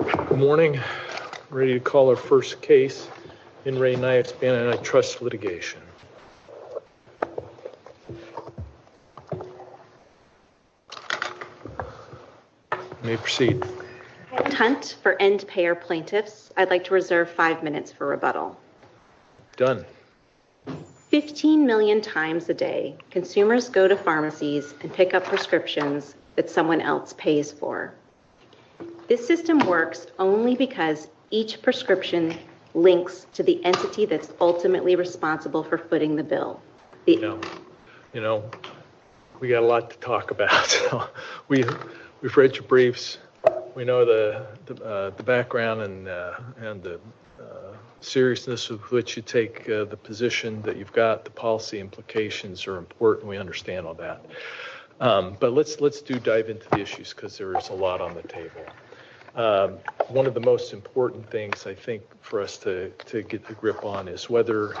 Good morning. I'm ready to call our first case in Re Niaspan Antitrust Litigation. You may proceed. I'm Hunt for Endpayer Plaintiffs. I'd like to reserve five minutes for rebuttal. Done. Fifteen million times a day, consumers go to pharmacies and pick up prescriptions that someone else pays for. This system works only because each prescription links to the entity that's ultimately responsible for footing the bill. You know, we've got a lot to talk about. We've read your briefs. We know the background and the seriousness with which you take the position that you've got. The policy implications are important. We understand all that. But let's let's do dive into the issues because there is a lot on the table. One of the most important things I think for us to get the grip on is whether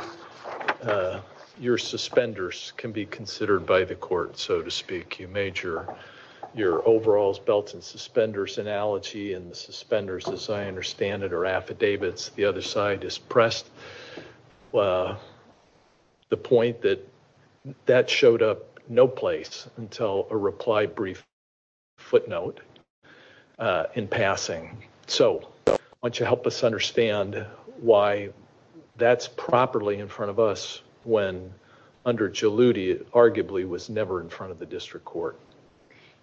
your suspenders can be considered by the court, so to speak. You major your overalls, belts and suspenders analogy and suspenders, as I understand it, are affidavits. The other side is pressed the point that that showed up no place until a reply brief footnote in passing. So why don't you help us understand why that's properly in front of us when under Jaluti, it arguably was never in front of the district court.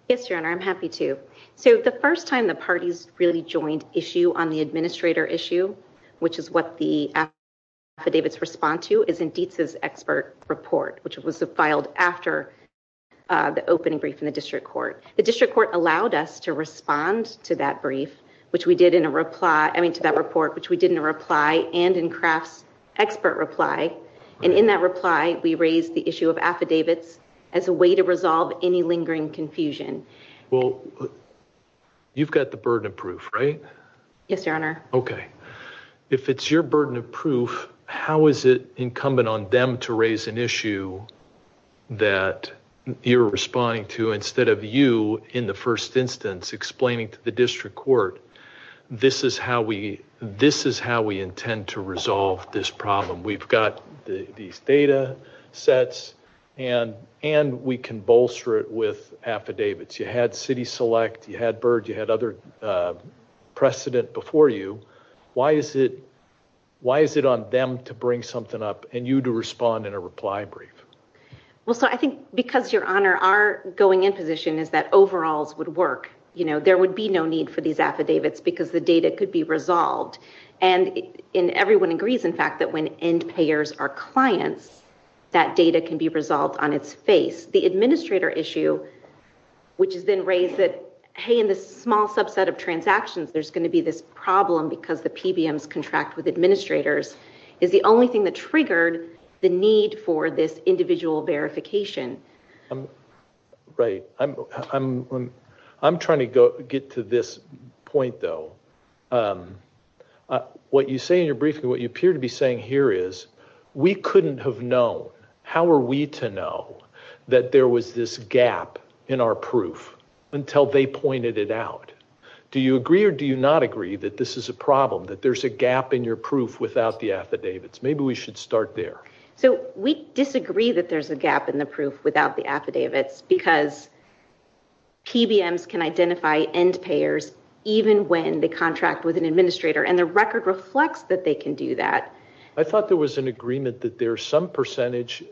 Yes, John, I'm happy to say the first time the parties really joined issue on the administrator issue, which is what the affidavits respond to. It's indeed this expert report, which was filed after the opening brief in the district court. The district court allowed us to respond to that brief, which we did in a reply to that report, which we didn't reply and in craft expert reply. And in that reply, we raised the issue of affidavits as a way to resolve any lingering confusion. Well, you've got the burden of proof, right? Yes, sir. OK, if it's your burden of proof, how is it incumbent on them to raise an issue that you're responding to instead of you in the first instance explaining to the district court? This is how we this is how we intend to resolve this problem. We've got these data sets and and we can bolster it with affidavits. You had city select. You had birds. You had other precedent before you. Why is it why is it on them to bring something up and you to respond in a reply brief? Well, I think because your honor are going into this issue is that overall would work. You know, there would be no need for these affidavits because the data could be resolved. And everyone agrees, in fact, that when end payers are clients, that data can be resolved on its face. The administrator issue, which has been raised that, hey, in this small subset of transactions, there's going to be this problem because the PBMs contract with administrators is the only thing that triggered the need for this individual verification. Right. I'm I'm I'm trying to get to this point, though. What you say in your briefing, what you appear to be saying here is we couldn't have known. How are we to know that there was this gap in our proof until they pointed it out? Do you agree or do you not agree that this is a problem, that there's a gap in your proof without the affidavits? Maybe we should start there. So we disagree that there's a gap in the proof without the affidavits because. PBMs can identify end payers even when the contract with an administrator and the record reflects that they can do that. I thought there was an agreement that there's some percentage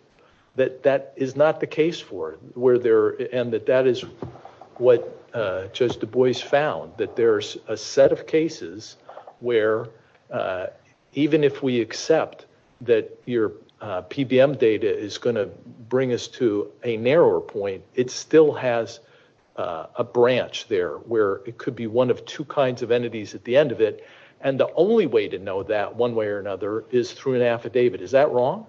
that that is not the case for where there and that that is what just the boys found, that there's a set of cases where even if we accept that your PBM data is going to bring us to a narrower point, it still has a branch there where it could be one of two kinds of entities at the end of it. And the only way to know that one way or another is through an affidavit. Is that wrong?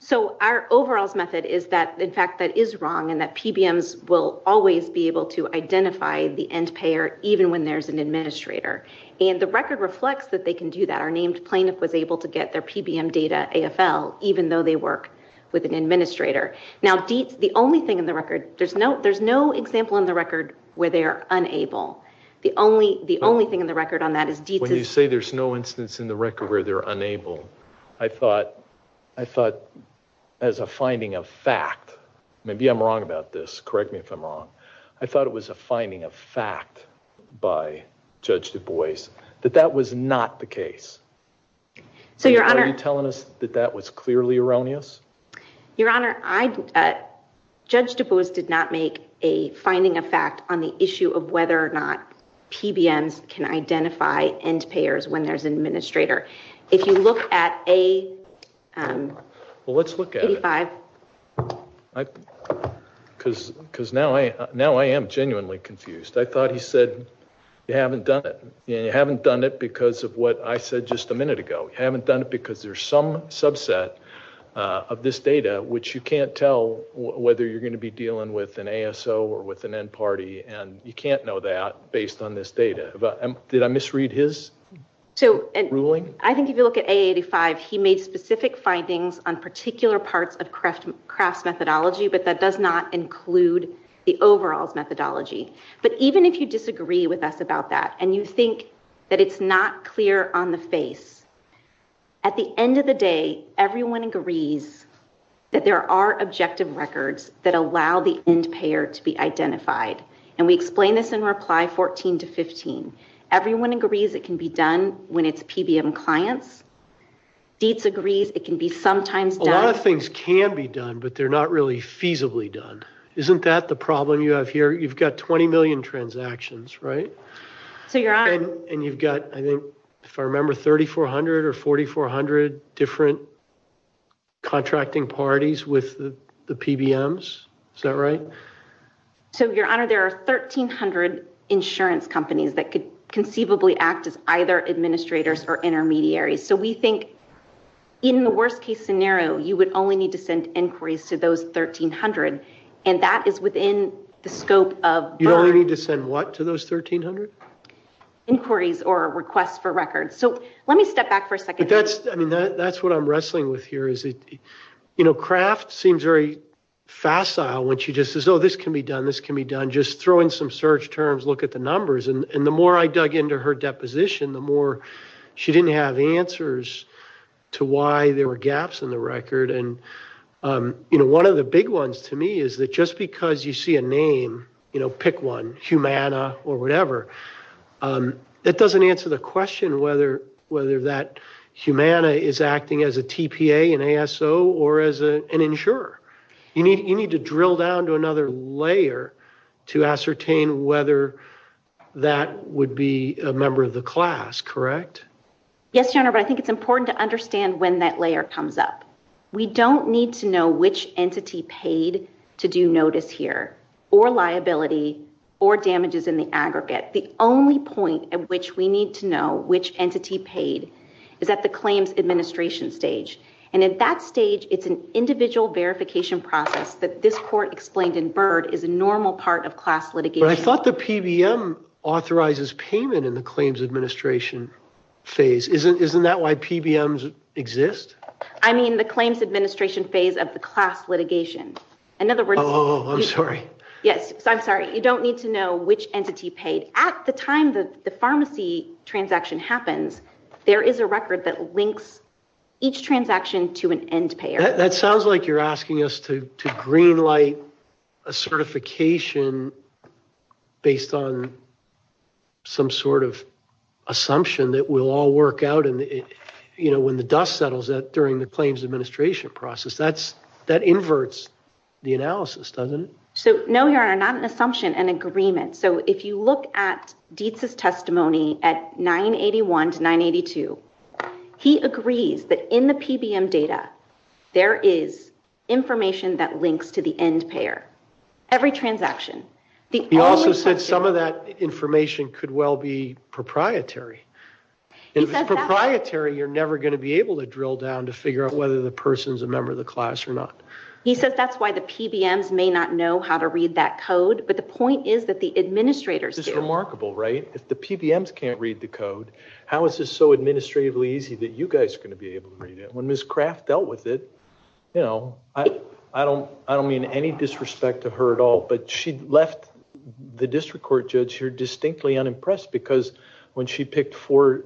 So our overall method is that, in fact, that is wrong and that PBMs will always be able to identify the end payer, even when there's an administrator. And the record reflects that they can do that. Our named plaintiff was able to get their PBM data AFL, even though they work with an administrator. Now, the only thing in the record there's no there's no example in the record where they are unable. The only the only thing in the record on that is when you say there's no instance in the record where they're unable. I thought I thought as a finding of fact, maybe I'm wrong about this. Correct me if I'm wrong. I thought it was a finding of fact by Judge Du Bois that that was not the case. So you're telling us that that was clearly erroneous. Your Honor, I, Judge Du Bois did not make a finding of fact on the issue of whether or not PBMs can identify end payers when there's an administrator. If you look at a. Well, let's look at five. Because now I now I am genuinely confused. I thought he said you haven't done it. You haven't done it because of what I said just a minute ago. You haven't done it because there's some subset of this data which you can't tell whether you're going to be dealing with an ASO or with an end party. And you can't know that based on this data. But did I misread his ruling? I think if you look at 85, he made specific findings on particular parts of craft methodology. But that does not include the overall methodology. But even if you disagree with us about that and you think that it's not clear on the face. At the end of the day, everyone agrees that there are objective records that allow the end payer to be identified. And we explain this in reply 14 to 15. Everyone agrees it can be done when it's PBM clients. It's agreed it can be sometimes a lot of things can be done, but they're not really feasibly done. Isn't that the problem you have here? You've got 20 million transactions, right? And you've got, I think, if I remember, 3400 or 4400 different contracting parties with the PBMs. Is that right? So, your honor, there are 1300 insurance companies that could conceivably act as either administrators or intermediaries. So we think in the worst case scenario, you would only need to send inquiries to those 1300. And that is within the scope of... You'd only need to send what to those 1300? Inquiries or requests for records. So, let me step back for a second. That's what I'm wrestling with here. Craft seems very facile when she just says, oh, this can be done, this can be done. Just throwing some search terms, look at the numbers. And the more I dug into her deposition, the more she didn't have answers to why there were gaps in the record. And one of the big ones to me is that just because you see a name, pick one, Humana or whatever, that doesn't answer the question whether that Humana is acting as a TPA, an ASO, or as an insurer. You need to drill down to another layer to ascertain whether that would be a member of the class, correct? Yes, your honor, but I think it's important to understand when that layer comes up. We don't need to know which entity paid to do notice here, or liability, or damages in the aggregate. The only point at which we need to know which entity paid is at the claims administration stage. And at that stage, it's an individual verification process that this court explained in Byrd is a normal part of class litigation. But I thought the PBM authorizes payment in the claims administration phase. Isn't that why PBMs exist? I mean the claims administration phase of the class litigation. Oh, I'm sorry. Yes, I'm sorry. You don't need to know which entity paid. At the time that the pharmacy transaction happened, there is a record that links each transaction to an end payer. That sounds like you're asking us to green light a certification based on some sort of assumption that we'll all work out. When the dust settles during the claims administration process, that inverts the analysis, doesn't it? No, your honor, not an assumption, an agreement. So if you look at Dietz's testimony at 981 to 982, he agrees that in the PBM data, there is information that links to the end payer. Every transaction. He also said some of that information could well be proprietary. If it's proprietary, you're never going to be able to drill down to figure out whether the person's a member of the class or not. He said that's why the PBMs may not know how to read that code, but the point is that the administrators do. This is remarkable, right? If the PBMs can't read the code, how is this so administratively easy that you guys are going to be able to read it? When Ms. Kraft dealt with it, you know, I don't mean any disrespect to her at all, but she left the district court judge here distinctly unimpressed because when she picked four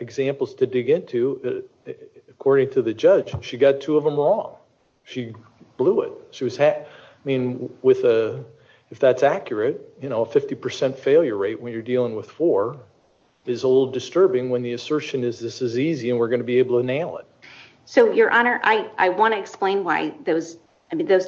examples to dig into, according to the judge, she got two of them wrong. She blew it. I mean, if that's accurate, you know, a 50% failure rate when you're dealing with four is a little disturbing when the assertion is this is easy and we're going to be able to nail it. So, your honor, I want to explain why those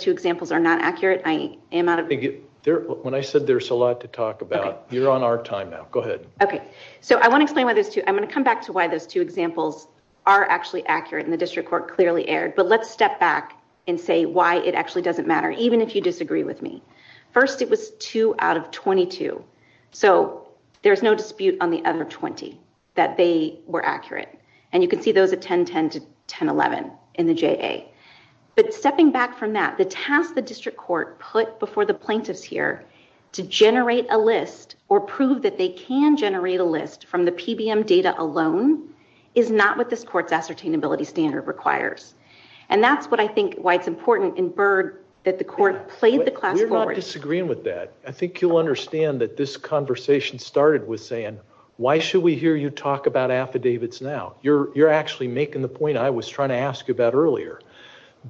two examples are not accurate. When I said there's a lot to talk about, you're on our time now. Go ahead. Okay. So, I want to come back to why those two examples are actually accurate and the district court clearly erred. But let's step back and say why it actually doesn't matter, even if you disagree with me. First, it was two out of 22. So, there's no dispute on the other 20 that they were accurate. And you can see those are 1010 to 1011 in the JA. But stepping back from that, the task the district court put before the plaintiffs here to generate a list or prove that they can generate a list from the PBM data alone is not what this court's ascertainability standard requires. And that's what I think why it's important in Byrd that the court played the class forward. We're not disagreeing with that. I think you'll understand that this conversation started with saying, why should we hear you talk about affidavits now? You're actually making the point I was trying to ask you about earlier.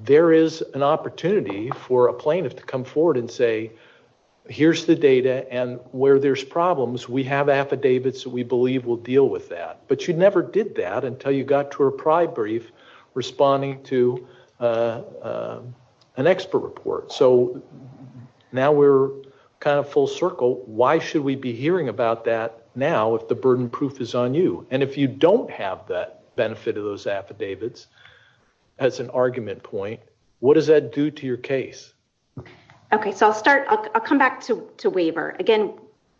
There is an opportunity for a plaintiff to come forward and say, here's the data and where there's problems, we have affidavits that we believe will deal with that. But you never did that until you got to a pride brief responding to an expert report. So, now we're kind of full circle. Why should we be hearing about that now if the burden proof is on you? And if you don't have that benefit of those affidavits, that's an argument point. What does that do to your case? Okay, so I'll start, I'll come back to waiver. Again,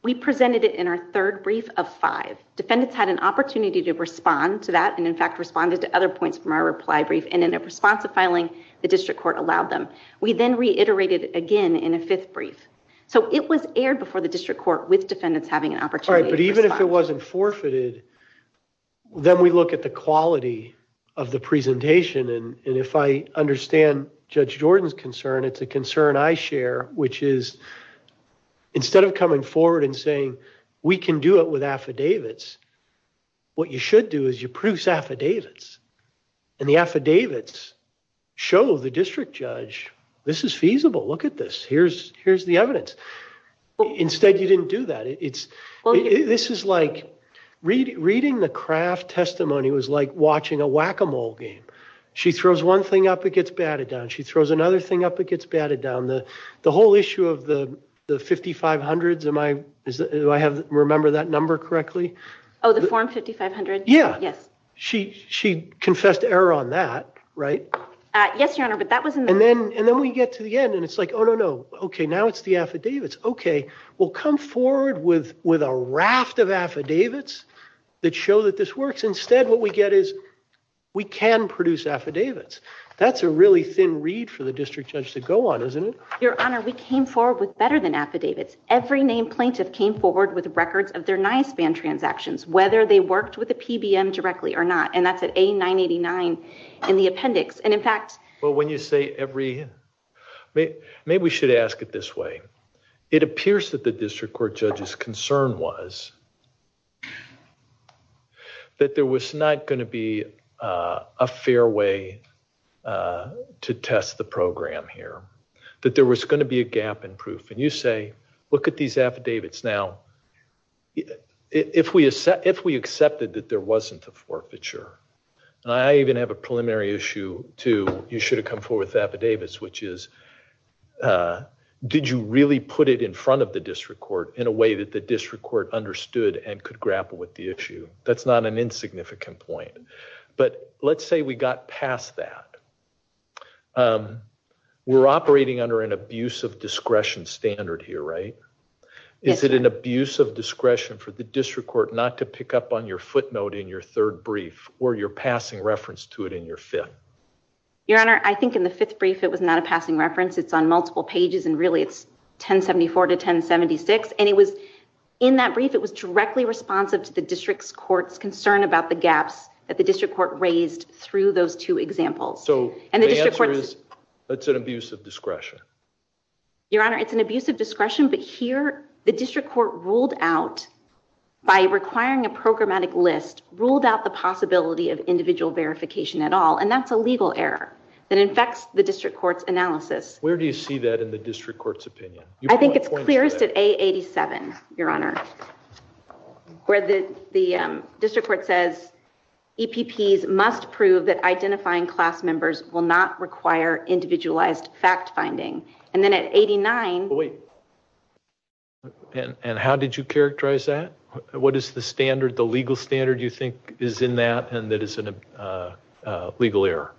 we presented it in our third brief of five. Defendants had an opportunity to respond to that and in fact responded to other points from our reply brief and in response to filing, the district court allowed them. We then reiterated again in a fifth brief. So, it was aired before the district court with defendants having an opportunity. All right, but even if it wasn't forfeited, then we look at the quality of the presentation. And if I understand Judge Jordan's concern, it's a concern I share, which is instead of coming forward and saying, we can do it with affidavits, what you should do is you produce affidavits. And the affidavits show the district judge, this is feasible, look at this, here's the evidence. Instead, you didn't do that. This is like reading the Kraft testimony was like watching a whack-a-mole game. She throws one thing up, it gets batted down. She throws another thing up, it gets batted down. The whole issue of the 5500s, do I remember that number correctly? Oh, the form 5500? Yeah. She confessed error on that, right? Yes, Your Honor, but that wasn't the… And then we get to the end and it's like, oh, no, no. Okay, now it's the affidavits. Okay, we'll come forward with a raft of affidavits that show that this works. Instead, what we get is we can produce affidavits. That's a really thin read for the district judge to go on, isn't it? Your Honor, we came forward with better than affidavits. Every named plaintiff came forward with records of their knife ban transactions, whether they worked with the PBM directly or not. And that's the A989 in the appendix. And in fact… Well, when you say every… Maybe we should ask it this way. It appears that the district court judge's concern was that there was not going to be a fair way to test the program here, that there was going to be a gap in proof. And you say, look at these affidavits. Now, if we accepted that there wasn't a forfeiture, I even have a preliminary issue, too. You should have come forward with affidavits, which is, did you really put it in front of the district court in a way that the district court understood and could grapple with the issue? That's not an insignificant point. But let's say we got past that. We're operating under an abuse of discretion standard here, right? Is it an abuse of discretion for the district court not to pick up on your footnote in your third brief or your passing reference to it in your fifth? Your Honor, I think in the fifth brief, it was not a passing reference. It's on multiple pages, and really it's 1074 to 1076. And it was in that brief, it was directly responsive to the district court's concern about the gaps that the district court raised through those two examples. So the answer is, it's an abuse of discretion. Your Honor, it's an abuse of discretion, but here, the district court ruled out, by requiring a programmatic list, ruled out the possibility of individual verification at all. And that's a legal error that infects the district court's analysis. Where do you see that in the district court's opinion? I think it's clearest at A87, Your Honor, where the district court says, EPPs must prove that identifying class members will not require individualized fact-finding. And then at 89... Wait. And how did you characterize that? What is the standard, the legal standard you think is in that, and that it's a legal error?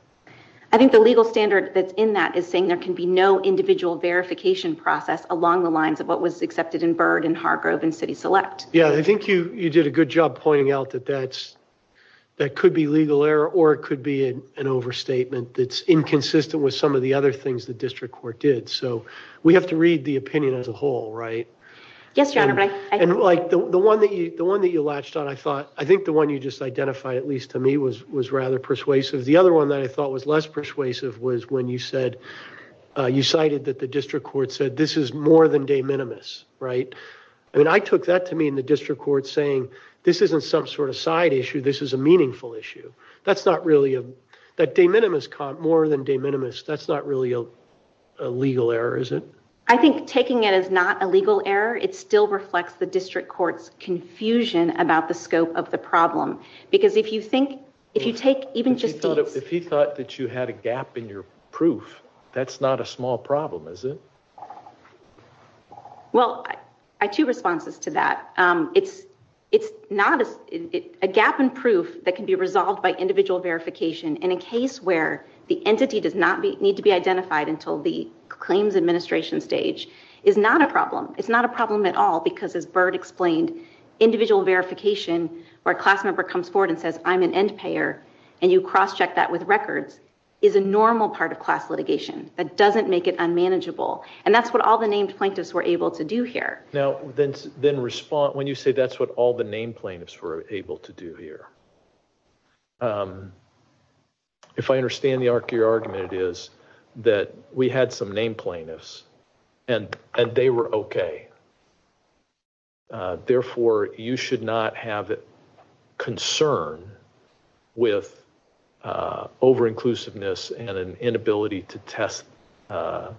I think the legal standard that's in that is saying there can be no individual verification process along the lines of what was accepted in Byrd and Hargrove and City Select. Yeah, I think you did a good job pointing out that that could be legal error or it could be an overstatement that's inconsistent with some of the other things the district court did, so we have to read the opinion as a whole, right? Yes, Your Honor. And the one that you latched on, I thought, I think the one you just identified, at least to me, was rather persuasive. The other one that I thought was less persuasive was when you said, you cited that the district court said, this is more than de minimis, right? And I took that to mean the district court saying, this isn't some sort of side issue, this is a meaningful issue. That's not really a... Taking it as more than de minimis, that's not really a legal error, is it? I think taking it as not a legal error, it still reflects the district court's confusion about the scope of the problem. Because if you think, if you take even just the... If you thought that you had a gap in your proof, that's not a small problem, is it? Well, I have two responses to that. It's not a... A gap in proof that can be resolved by individual verification where the entity does not need to be identified until the claims administration stage is not a problem. It's not a problem at all because, as Bert explained, individual verification where a class member comes forward and says, I'm an end payer, and you cross-check that with records is a normal part of class litigation. That doesn't make it unmanageable. And that's what all the named plaintiffs were able to do here. Now, then respond... When you say that's what all the named plaintiffs were able to do here. If I understand the arc of your argument, it is that we had some named plaintiffs, and they were okay. Therefore, you should not have concern with over-inclusiveness and an inability to test the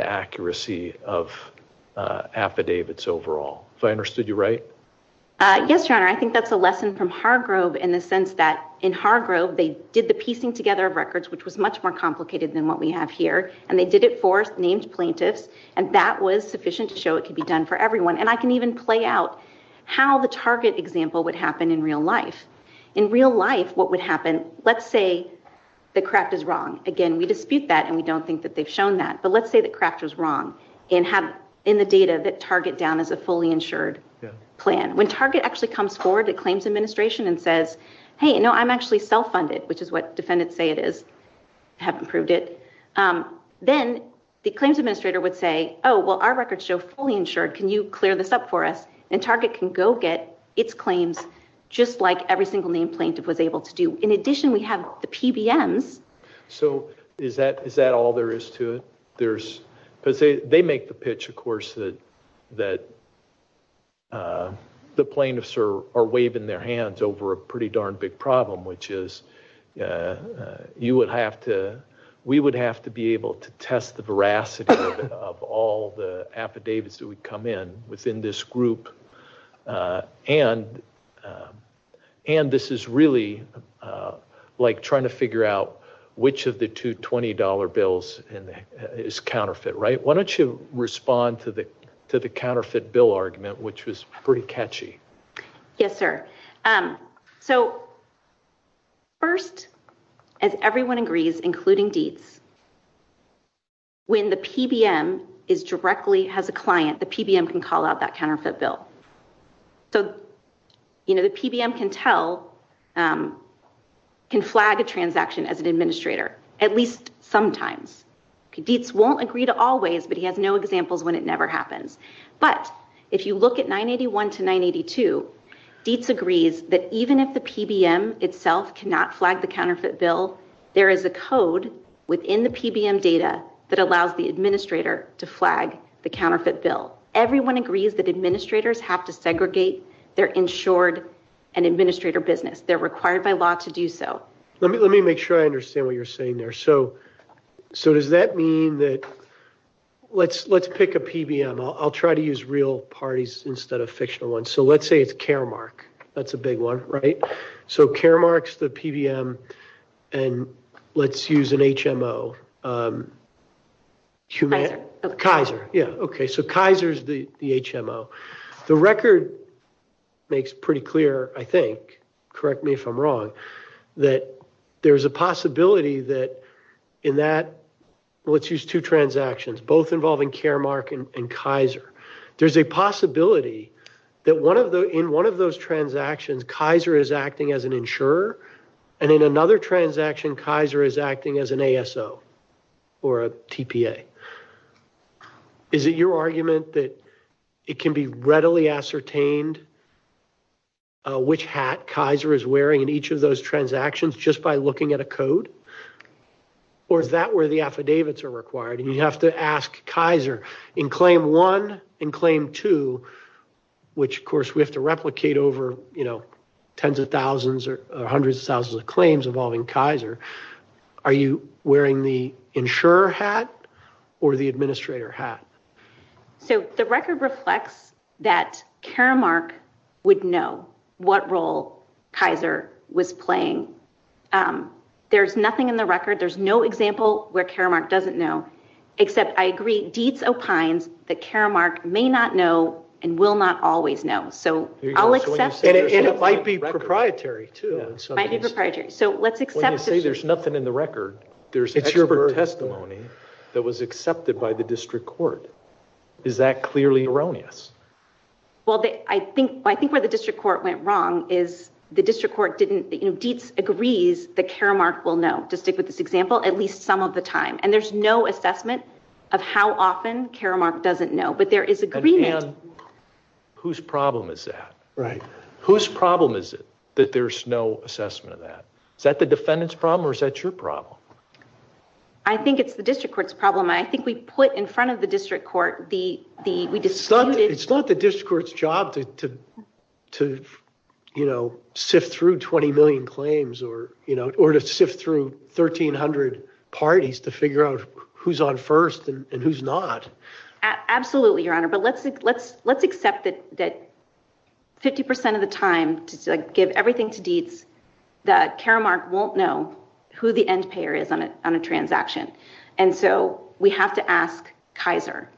accuracy of affidavits overall. If I understood you right? Yes, Your Honor. And I think that's a lesson from Hargrove in the sense that in Hargrove, they did the piecing together of records, which was much more complicated than what we have here. And they did it for named plaintiffs. And that was sufficient to show it could be done for everyone. And I can even play out how the target example would happen in real life. In real life, what would happen... Let's say the craft is wrong. Again, we dispute that, and we don't think that they've shown that. But let's say the craft is wrong in the data that Target down as a fully insured plan. When Target actually comes forward to claims administration and says, hey, no, I'm actually self-funded, which is what defendants say it is, haven't proved it, then the claims administrator would say, oh, well, our records show fully insured. Can you clear this up for us? And Target can go get its claims just like every single named plaintiff was able to do. In addition, we have the PBMs. So is that all there is to it? But they make the pitch, of course, that the plaintiffs are waving their hands over a pretty darn big problem, which is we would have to be able to test the veracity of all the affidavits that would come in within this group. And this is really like trying to figure out which of the two $20 bills is counterfeit, right? Why don't you respond to the question to the counterfeit bill argument, which was pretty catchy. Yes, sir. So first, as everyone agrees, including Dietz, when the PBM directly has a client, the PBM can call out that counterfeit bill. So the PBM can flag a transaction as an administrator, at least sometimes. Dietz won't agree to all ways, but he has no examples when it never happens. But if you look at 981 to 982, Dietz agrees that even if the PBM itself cannot flag the counterfeit bill, there is a code within the PBM data that allows the administrator to flag the counterfeit bill. Everyone agrees that administrators have to segregate their insured and administrator business. They're required by law to do so. Let me make sure I understand what you're saying there. So does that mean that... Let's pick a PBM. I'll try to use real parties instead of fictional ones. So let's say it's Caremark. That's a big one, right? So Caremark's the PBM, and let's use an HMO. Kaiser, yeah, okay. So Kaiser's the HMO. The record makes pretty clear, I think, correct me if I'm wrong, that there's a possibility that in that... Let's use two transactions, both involving Caremark and Kaiser. There's a possibility that in one of those transactions, Kaiser is acting as an insurer, and in another transaction, Kaiser is acting as an ASO or a TPA. Is it your argument that it can be readily ascertained which hat Kaiser is wearing in each of those transactions just by looking at a code? Or is that where the affidavits are required? And you have to ask Kaiser. In claim one and claim two, which, of course, we have to replicate over tens of thousands or hundreds of thousands of claims involving Kaiser, are you wearing the insurer hat or the administrator hat? So the record reflects that Caremark would know what role Kaiser was playing. There's nothing in the record. There's no example where Caremark doesn't know, except, I agree, deeds of kinds that Caremark may not know and will not always know. So I'll accept... It might be proprietary, too. It might be proprietary. So let's accept... When you say there's nothing in the record, there's expert testimony that was accepted by the district court. Is that clearly erroneous? Well, I think where the district court went wrong is the district court agrees that Caremark will know, to stick with this example, at least some of the time. And there's no assessment of how often Caremark doesn't know. But there is agreement... Whose problem is that? Whose problem is it that there's no assessment of that? Is that the defendant's problem or is that your problem? I think it's the district court's problem. I think we put in front of the district court the... It's not the district court's job to sift through 20 million claims or to sift through 1,300 parties to figure out who's on first and who's not. Absolutely, Your Honor. But let's accept that 50% of the time, to give everything to deeds, that Caremark won't know who the end payer is on a transaction. And so we have to ask Kaiser.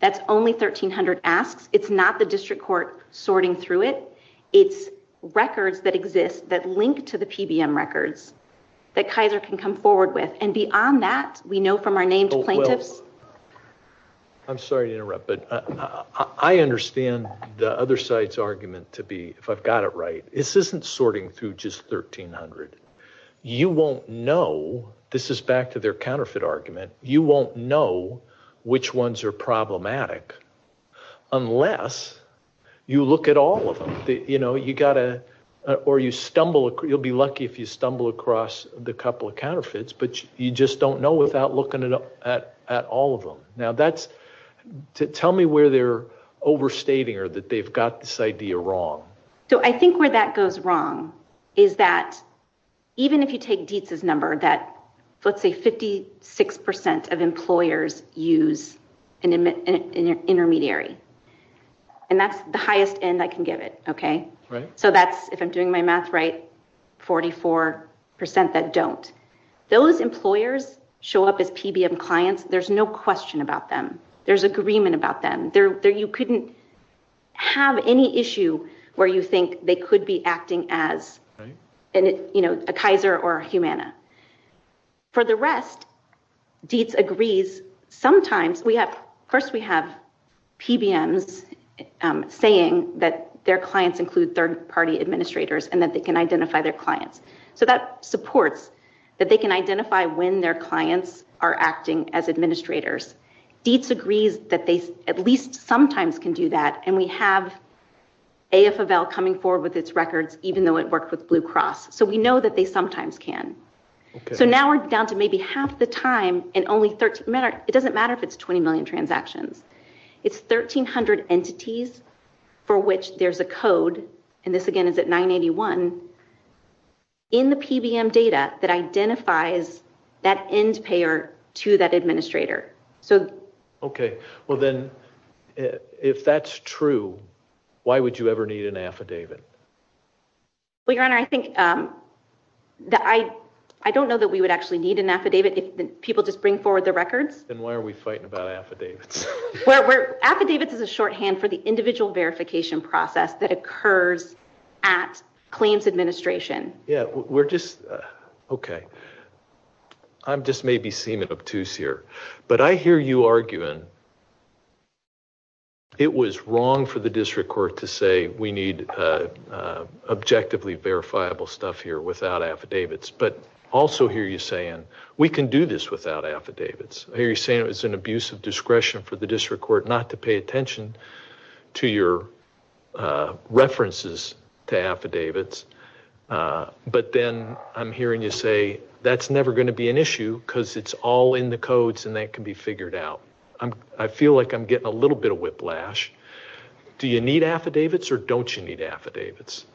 That's only 1,300 asks. It's not the district court sorting through it. It's records that exist that link to the PBM records that Kaiser can come forward with. And beyond that, we know from our named plaintiffs... I'm sorry to interrupt, but I understand the other side's argument to be, if I've got it right, this isn't sorting through just 1,300. You won't know... This is back to their counterfeit argument. You won't know which ones are problematic unless you look at all of them. You know, you got to... Or you stumble... You'll be lucky if you stumble across the couple of counterfeits, but you just don't know without looking at all of them. Now, that's... Tell me where they're overstating or that they've got this idea wrong. So I think where that goes wrong is that even if you take Dietz's number, that, let's say, 56% of employers use an intermediary. And that's the highest N I can give it, okay? So that's, if I'm doing my math right, 44% that don't. Those employers show up as PBM clients. There's no question about them. There's agreement about them. You couldn't have any issue where you think they could be acting as a Kaiser or a Humana. For the rest, Dietz agrees. Sometimes we have... First we have PBMs saying that their clients include third-party administrators and that they can identify their clients. So that supports that they can identify when their clients are acting as administrators. Dietz agrees that they at least sometimes can do that, and we have AFL coming forward with its records even though it works with Blue Cross. So we know that they sometimes can. So now we're down to maybe half the time and only 13... It doesn't matter if it's 20 million transactions. It's 1,300 entities for which there's a code, and this again is at 981, in the PBM data that identifies that end payer to that administrator. So... Okay, well then, if that's true, why would you ever need an affidavit? Well, Your Honor, I think... I don't know that we would actually need an affidavit if people just bring forward their records. Then why are we fighting about affidavits? Affidavits is a shorthand for the individual verification process that occurs at claims administration. Yeah, we're just... Okay. I'm just maybe seeming obtuse here, but I hear you arguing it was wrong for the district court to say we need objectively verifiable stuff here without affidavits, but also hear you saying we can do this without affidavits. I hear you saying it was an abuse of discretion for the district court not to pay attention to your references to affidavits, but then I'm hearing you say that's never going to be an issue because it's all in the codes and that can be figured out. I feel like I'm getting a little bit of whiplash. Do you need affidavits or don't you need affidavits?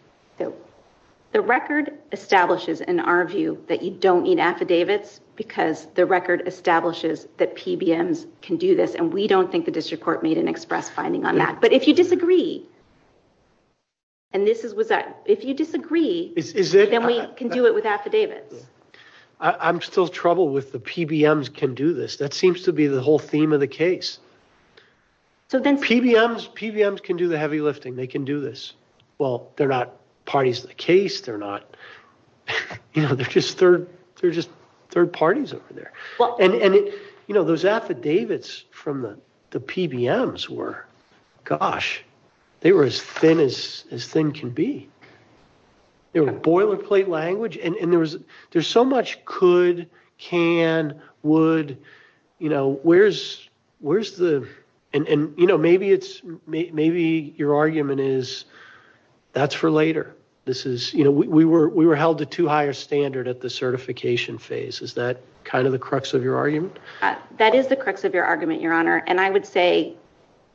The record establishes, in our view, that you don't need affidavits because the record establishes that PBMs can do this and we don't think the district court made an express finding on that. But if you disagree, and this is with that, if you disagree, then we can do it with affidavits. I'm still troubled with the PBMs can do this. That seems to be the whole theme of the case. So then... PBMs can do the heavy lifting. They can do this. They're not third parties to the case. They're not... They're just third parties over there. And those affidavits from the PBMs were, gosh, they were as thin as thin can be. They were boilerplate language and there's so much could, can, would. Where's the... And maybe your argument is that's for later. This is... We were held to too high a standard at the certification phase. Is that kind of the crux of your argument? That is the crux of your argument, Your Honor. And I would say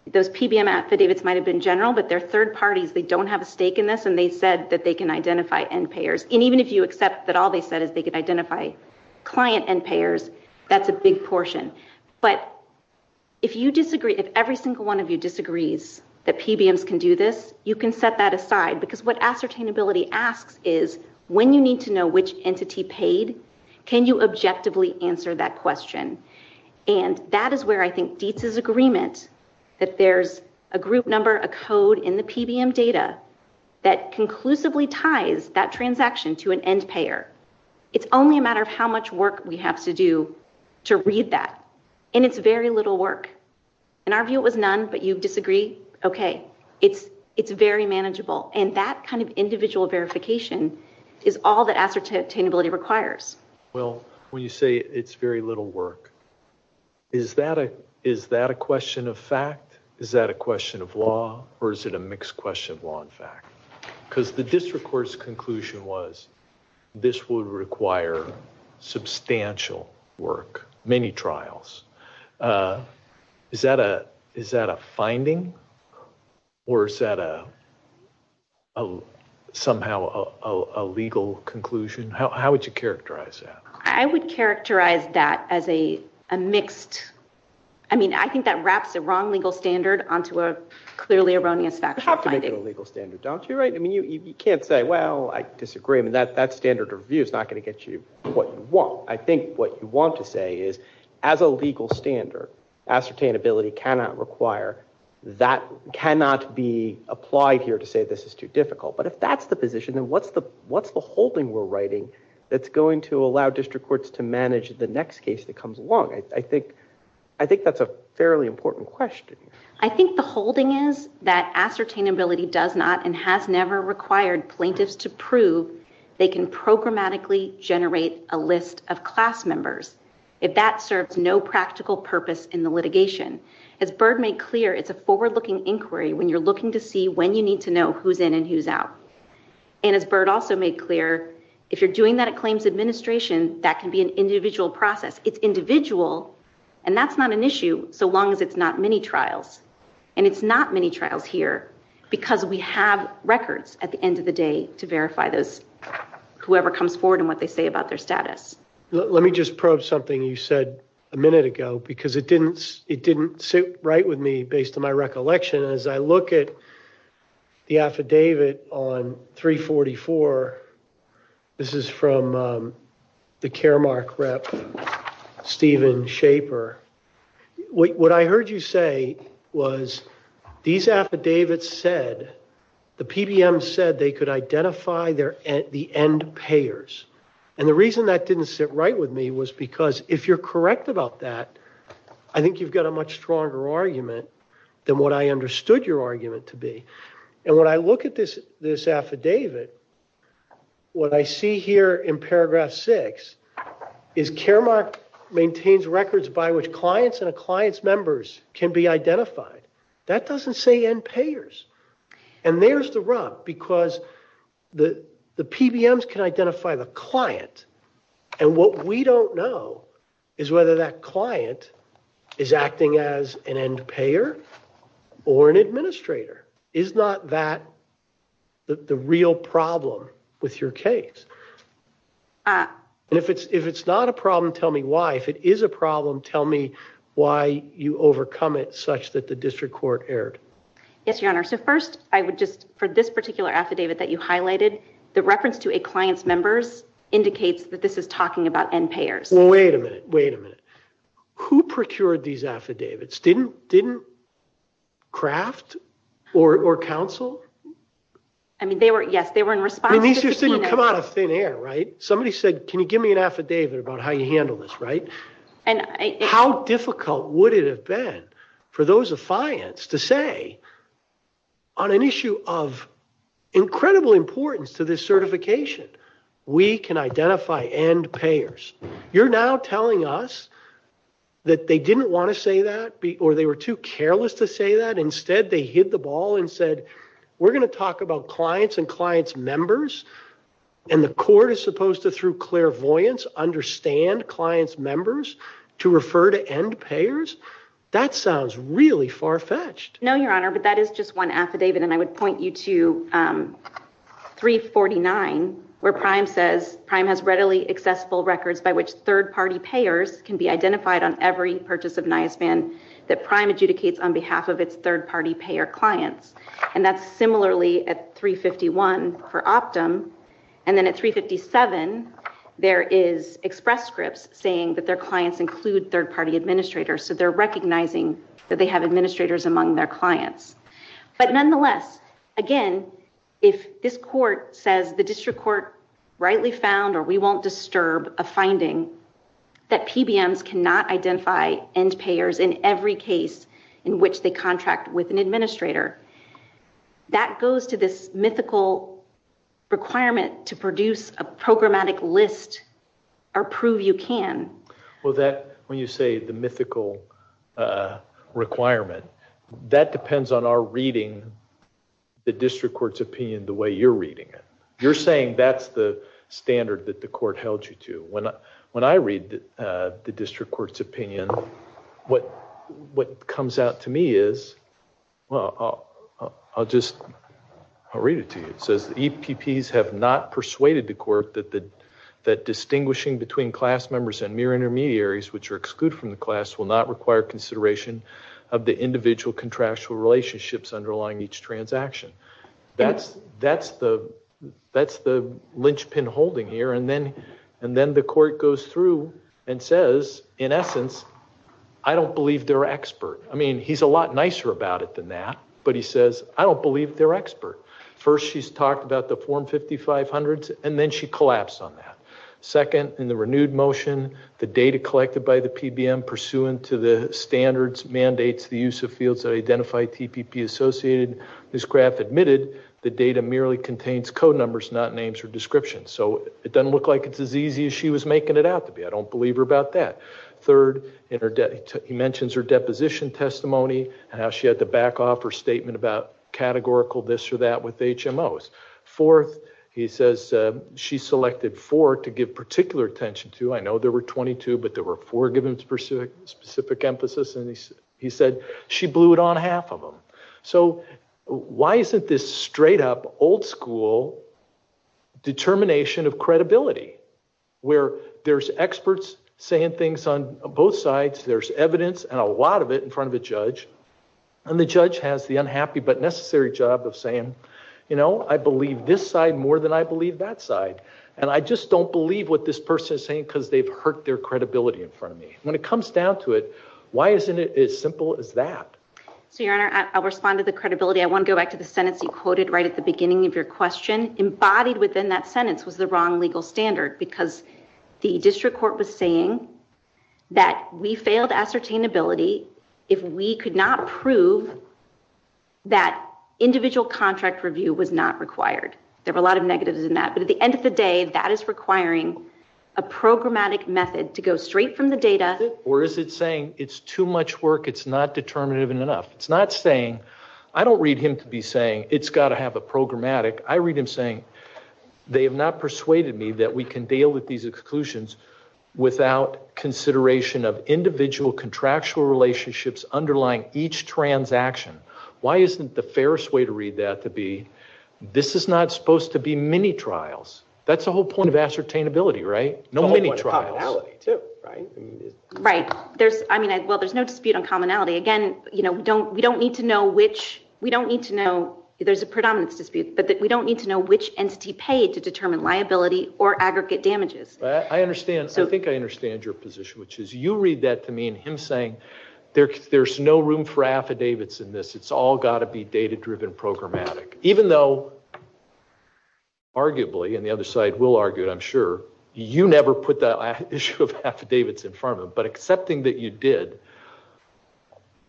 those PBM affidavits might have been general, but they're third parties. They don't have a stake in this and they said that they can identify end payers. And even if you accept that all they said is they could identify client end payers, that's a big portion. But if you disagree, if every single one of you disagrees and every single one of you has a disability, what the disability asks is when you need to know which entity paid, can you objectively answer that question? And that is where I think DITSA's agreement that there's a group number, a code in the PBM data that conclusively ties that transaction to an end payer. It's only a matter of how much work we have to do to read that. And it's very little work. In our view, it was none, but you disagree, okay. It's very manageable. And that kind of individual verification is all that affidavit attainability requires. Well, when you say it's very little work, is that a question of fact? Is that a question of law? Or is it a mixed question of law and fact? Because the district court's conclusion was this would require substantial work, many trials. Is that a finding? Or is that somehow a legal conclusion? How would you characterize that? I would characterize that as a mixed... I mean, I think that wraps the wrong legal standard onto a clearly erroneous fact finding. You have to make it a legal standard, don't you? I mean, you can't say, well, I disagree. I mean, that standard review is not going to get you what you want. I think what you want to say is as a legal standard, ascertainability cannot require, that cannot be applied here to say this is too difficult. But if that's the position, then what's the holding we're writing that's going to allow district courts to manage the next case that comes along? I think that's a fairly important question. I think the holding is that ascertainability does not and has never required plaintiffs to prove they can programmatically generate a list of class members. If that serves no practical purpose for litigation, as Byrd made clear, it's a forward-looking inquiry when you're looking to see when you need to know who's in and who's out. And as Byrd also made clear, if you're doing that at claims administration, that can be an individual process. It's individual, and that's not an issue so long as it's not mini-trials. And it's not mini-trials here because we have records at the end of the day to verify those, whoever comes forward and what they say about their status. Let me just probe something you said a minute ago because it didn't sit right with me based on my recollection. As I look at the affidavit on 344, this is from the Caremark rep, Steven Shaper. What I heard you say was these affidavits said, the PDM said they could identify the end payers. And the reason that didn't sit right with me was because if you're correct about that, I think you've got a much stronger argument than what I understood your argument to be. And when I look at this affidavit, what I see here in paragraph six is Caremark maintains records by which clients and clients' members can be identified. That doesn't say end payers. And there's the rub because the PBMs can identify a client. And what we don't know is whether that client is acting as an end payer or an administrator. Is not that the real problem with your case? And if it's not a problem, tell me why. If it is a problem, tell me why you overcome it such that the district court erred. Yes, Your Honor. So first, for this particular affidavit that you highlighted, the reference to a client's members indicates that this is talking about end payers. Wait a minute. Wait a minute. Who procured these affidavits? Didn't Kraft or counsel? I mean, yes, they were in response. I mean, this just didn't come out of thin air, right? Somebody said, can you give me an affidavit about how you handled this, right? How difficult would it have been for those affiants to say on an issue of incredible importance to this certification, we can identify end payers. You're now telling us that they didn't want to say that or they were too careless to say that. Instead, they hit the ball and said, we're going to talk about clients and clients' members, and the court is supposed to, through clairvoyance, understand clients' members to refer to end payers? That sounds really far-fetched. No, Your Honor, but that is just one affidavit, and I would point you to 349, where Prime says, Prime has readily accessible records by which third-party payers can be identified on every purchase of NYIS BAN that Prime adjudicates on behalf of its third-party payer clients, and that's similarly at 351 for Optum, and then at 357, there is express scripts saying that their clients include third-party administrators, so they're recognizing their clients, but nonetheless, again, if this court says the district court rightly found or we won't disturb a finding that PBMs cannot identify end payers in every case in which they contract with an administrator, that goes to this mythical requirement to produce a programmatic list or prove you can. Well, that, when you say the mythical requirement, that depends on our reading the district court's opinion the way you're reading it. You're saying that's the standard that the court held you to. When I read the district court's opinion, what comes out to me is, well, I'll just, I'll read it to you. It says, EPPs have not persuaded the court that distinguishing between class members and mere intermediaries which are excluded from the class will not require consideration of the individual contractual relationships underlying each transaction. That's the linchpin holding here. And then the court goes through and says, in essence, I don't believe they're expert. I mean, he's a lot nicer about it than that, but he says, I don't believe they're expert. First, she's talked about the form 5500s, and then she collapsed on that. Second, in the renewed motion, the data collected by the PBM to the standards mandates the use of fields that identify TPP associated. Ms. Kraft admitted the data merely contains code numbers, not names or descriptions. So it doesn't look like it's as easy as she was making it out to be. I don't believe her about that. Third, he mentions her deposition testimony and how she had to back off her statement about categorical this or that with HMOs. Fourth, he says she selected four to give particular attention to. I know there were 22, but there were four given specific emphasis. And he said she blew it on half of them. So why isn't this straight up old school determination of credibility, where there's experts saying things on both sides, there's evidence and a lot of it in front of the judge, and the judge has the unhappy but necessary job of saying, you know, I believe this side more than I believe that side. And I just don't believe what this person is saying because they've hurt their credibility in front of me. When it comes down to it, why isn't it as simple as that? Your Honor, I'll respond to the credibility. I want to go back to the sentence you quoted right at the beginning of your question. Embodied within that sentence was the wrong legal standard because the district court was saying that we failed ascertainability if we could not prove that individual contract review was not required. There were a lot of negatives in that. But at the end of the day, this is a programmatic method to go straight from the data. Or is it saying it's too much work, it's not determinative enough? It's not saying, I don't read him to be saying it's got to have a programmatic. I read him saying they have not persuaded me that we can deal with these exclusions without consideration of individual contractual relationships underlying each transaction. Why isn't the fairest way to read that to be this is not supposed to be mini trials? That's the whole point of ascertainability, right? Right. Well, there's no dispute on commonality. Again, we don't need to know which, we don't need to know, there's a predominance dispute, but we don't need to know which entity paid to determine liability or aggregate damages. I think I understand your position, which is you read that to mean him saying there's no room for affidavits in this. It's all got to be data-driven programmatic. Even though, arguably, and the other side will argue, I'm sure, you never put the issue of affidavits in front of him, but accepting that you did,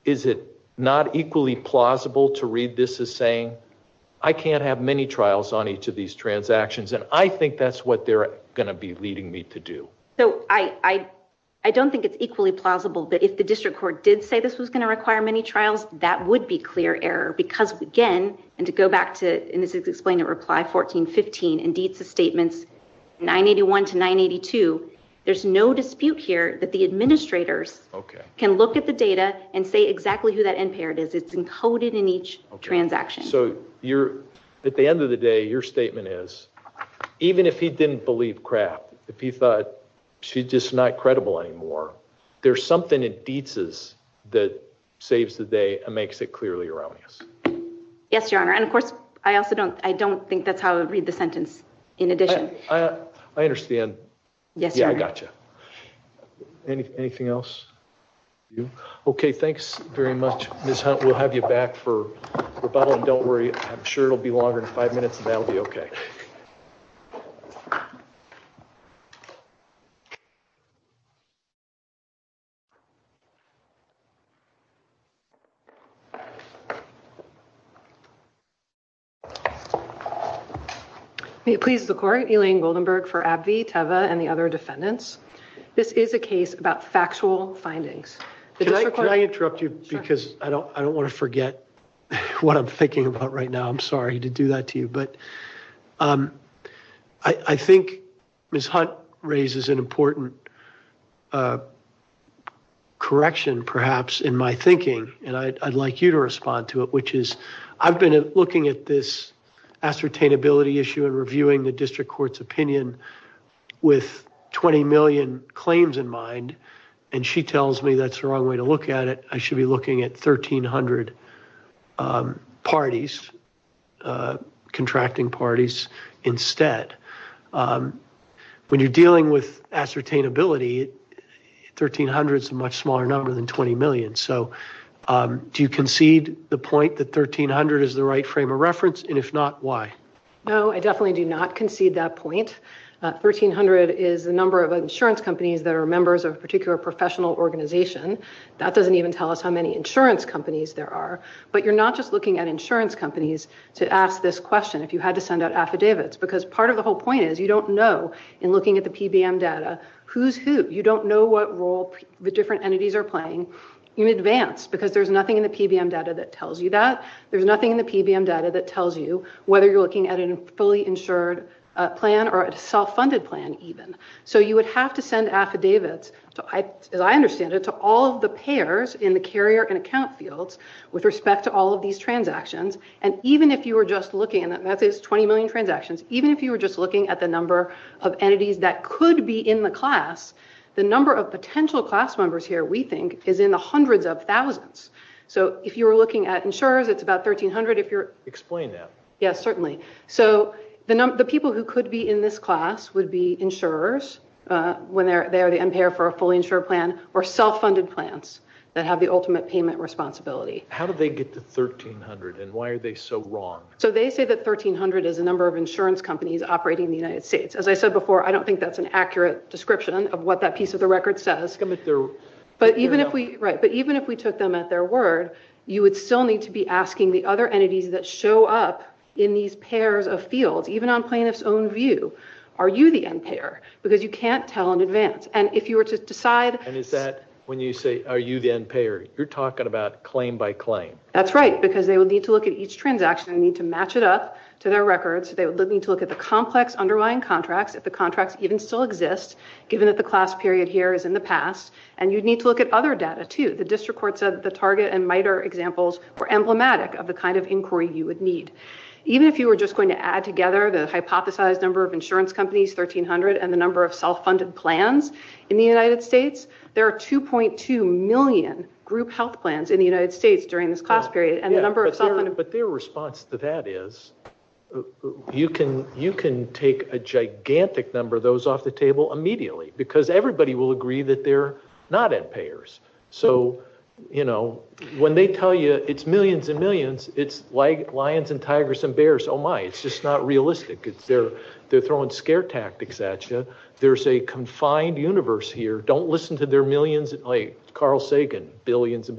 is it not equally plausible to read this as saying I can't have mini trials on each of these transactions, and I think that's what they're going to be leading me to do? I don't think it's equally plausible, but if the district court did say this was going to require mini trials, that would be clear error because, again, and to go back to, and this is explained in reply 1415 and DITSA statements 981 to 982, there's no dispute here that the administrators can look at the data and say exactly who that end-payer is. It's encoded in each transaction. So, at the end of the day, your statement is, even if he didn't believe crap, if he thought she's just not credible anymore, there's something in DITSA's that saves the day and makes it clearly erroneous. Yes, Your Honor. And, of course, I also don't think there's a dispute in addition. I understand. Yes, Your Honor. Yeah, I gotcha. Anything else? Okay, thanks very much, Ms. Hunt. We'll have you back for rebuttal, and don't worry, I'm sure it'll be longer than five minutes, and that'll be okay. So, please, the court, Elaine Goldenberg for AbbVie, Teva, and the other defendants, this is a case about factual findings. Can I interrupt you, because I don't want to forget what I'm thinking about right now. I'm sorry to do that to you, but I think Ms. Hunt raises an important correction, perhaps, in my thinking, and I'd like you to respond to it, which is I've been looking at this ascertainability issue and reviewing the district court's opinion with 20 million claims in mind, and she tells me that's the wrong way to look at it. I should be looking at 1,300 parties, contracting parties, instead. When you're dealing with ascertainability, 1,300 is a much smaller number so do you concede the point that 1,300 is the right frame of reference and if not, why? No, I definitely do not concede that point. 1,300 is the number of insurance companies that are members of a particular professional organization. That doesn't even tell us how many insurance companies there are, but you're not just looking at insurance companies to ask this question if you had to send out affidavits, because part of the whole point is you don't know in looking at the PBM data who's who. You don't know what role the different entities are playing in advance that tells you whether you're looking at a fully insured plan or a self-funded plan, even. So you would have to send affidavits, as I understand it, to all of the payers in the carrier and account fields with respect to all of these transactions and even if you were just looking and that method is 20 million transactions, even if you were just looking at the number of entities that could be in the class, the number of potential class members here, we think, is in the hundreds of thousands. Are you saying that? Yes, certainly. So the people who could be in this class would be insurers, when they're the end payer for a fully insured plan, or self-funded plans that have the ultimate payment responsibility. How did they get to 1,300 and why are they so wrong? So they say that 1,300 is the number of insurance companies operating in the United States. As I said before, I don't think that's an accurate description of the number of insurance companies operating in the United States. So the question is, are you the end payer? And if you were to look up in these pairs of fields, even on plaintiff's own view, are you the end payer? Because you can't tell in advance. And if you were to decide... And is that when you say, are you the end payer? You're talking about claim by claim. That's right, because they would need to look at the number of insurance companies. Even if you were just going to add together the hypothesized number of insurance companies, 1,300, and the number of self-funded plans in the United States, there are 2.2 million group health plans in the United States during this cost period. But their response to that is, you can take a gigantic number of those off the table immediately, because everybody will agree that they're not end payers. So when they tell you it's millions and millions, you're like, oh my, it's just not realistic. They're throwing scare tactics at you. There's a confined universe here. Don't listen to their millions, like Carl Sagan, billions.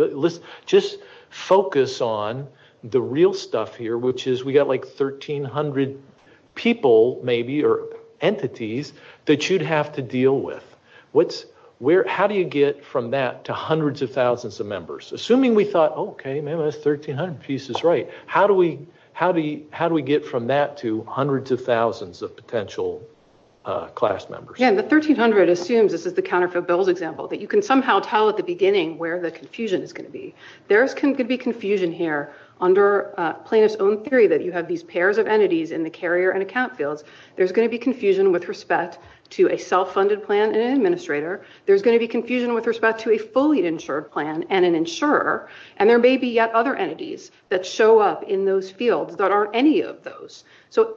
Just focus on the real stuff here, which is we've got like 1,300 people, maybe, or entities, that you'd have to deal with. How do you get from that to hundreds of thousands of members? Assuming we thought, okay, maybe that's 1,300 pieces, right. How do we get from that to hundreds of thousands of potential class members? Yeah, and the 1,300 assumes, this is the counterfeit gold example, that you can somehow tell at the beginning where the confusion is going to be. There's going to be confusion here under Plano's own theory that you have these pairs of entities in the carrier and account fields. There's going to be confusion with respect to a self-funded plan and an administrator. There's going to be confusion with respect to a fully insured plan and an insurer. There may be yet other entities that show up in those fields that aren't any of those.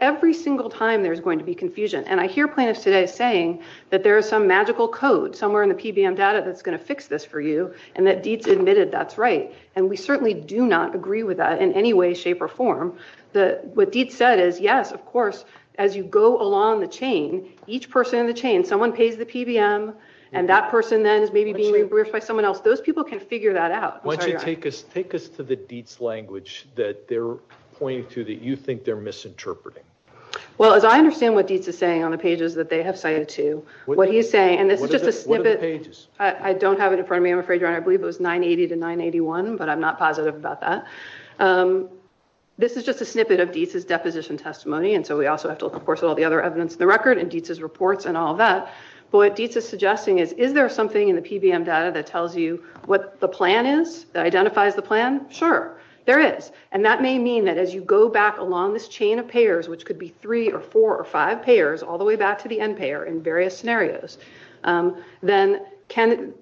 Every single time there's going to be confusion. I hear Plano's today saying that there is some magical code somewhere in the PBM data that's going to fix this for you and that Dietz admitted that's right. We certainly do not agree with that in any way, shape, or form. What Dietz said is, yes, of course, as you go along the chain, each person in the chain, someone pays the PBM and that person then is maybe being reimbursed by someone else. Those people can figure that out. Why don't you take us to the Dietz language that they're pointing to that you think they're misinterpreting. Well, as I understand what Dietz is saying on the pages that they have cited to, what he's saying, and this is just a snippet. I don't have it in front of me, I'm afraid, Ron. I believe it was 980 to 981, but I'm not positive about that. This is just a snippet of Dietz's deposition testimony, and so we also have to look, of course, at all the other evidence in the record and Dietz's reports and all that. What Dietz is suggesting is, is there something in the PBM data that tells you what the plan is, that identifies the plan? Sure, there is. That may mean that as you go back along this chain of payers, which could be three or four or five payers all the way back to the end payer in various scenarios, then can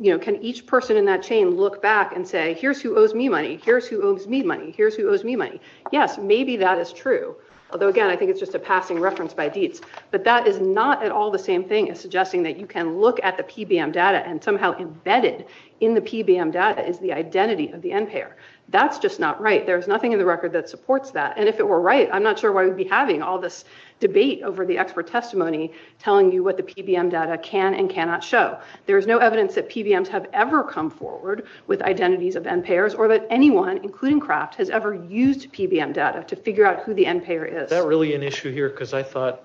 each person in that chain look back and say, here's who owes me money, here's who owes me money, here's who owes me money. Yes, maybe that is true. Although, again, I think it's just a passing reference by Dietz, but that is not at all the same thing as suggesting that you can look at the PBM data and somehow embedded in the PBM data is the identity of the end payer. That's just not right. There's nothing in the record that supports that, and if it were right, I'm not sure why we'd be having all this debate over the expert testimony telling you what the PBM data can and cannot show. There's no evidence that PBMs have ever come forward with identities of end payers or that anyone, including Kraft, has ever used PBM data to figure out who the end payer is. Is that really an issue here? Because I thought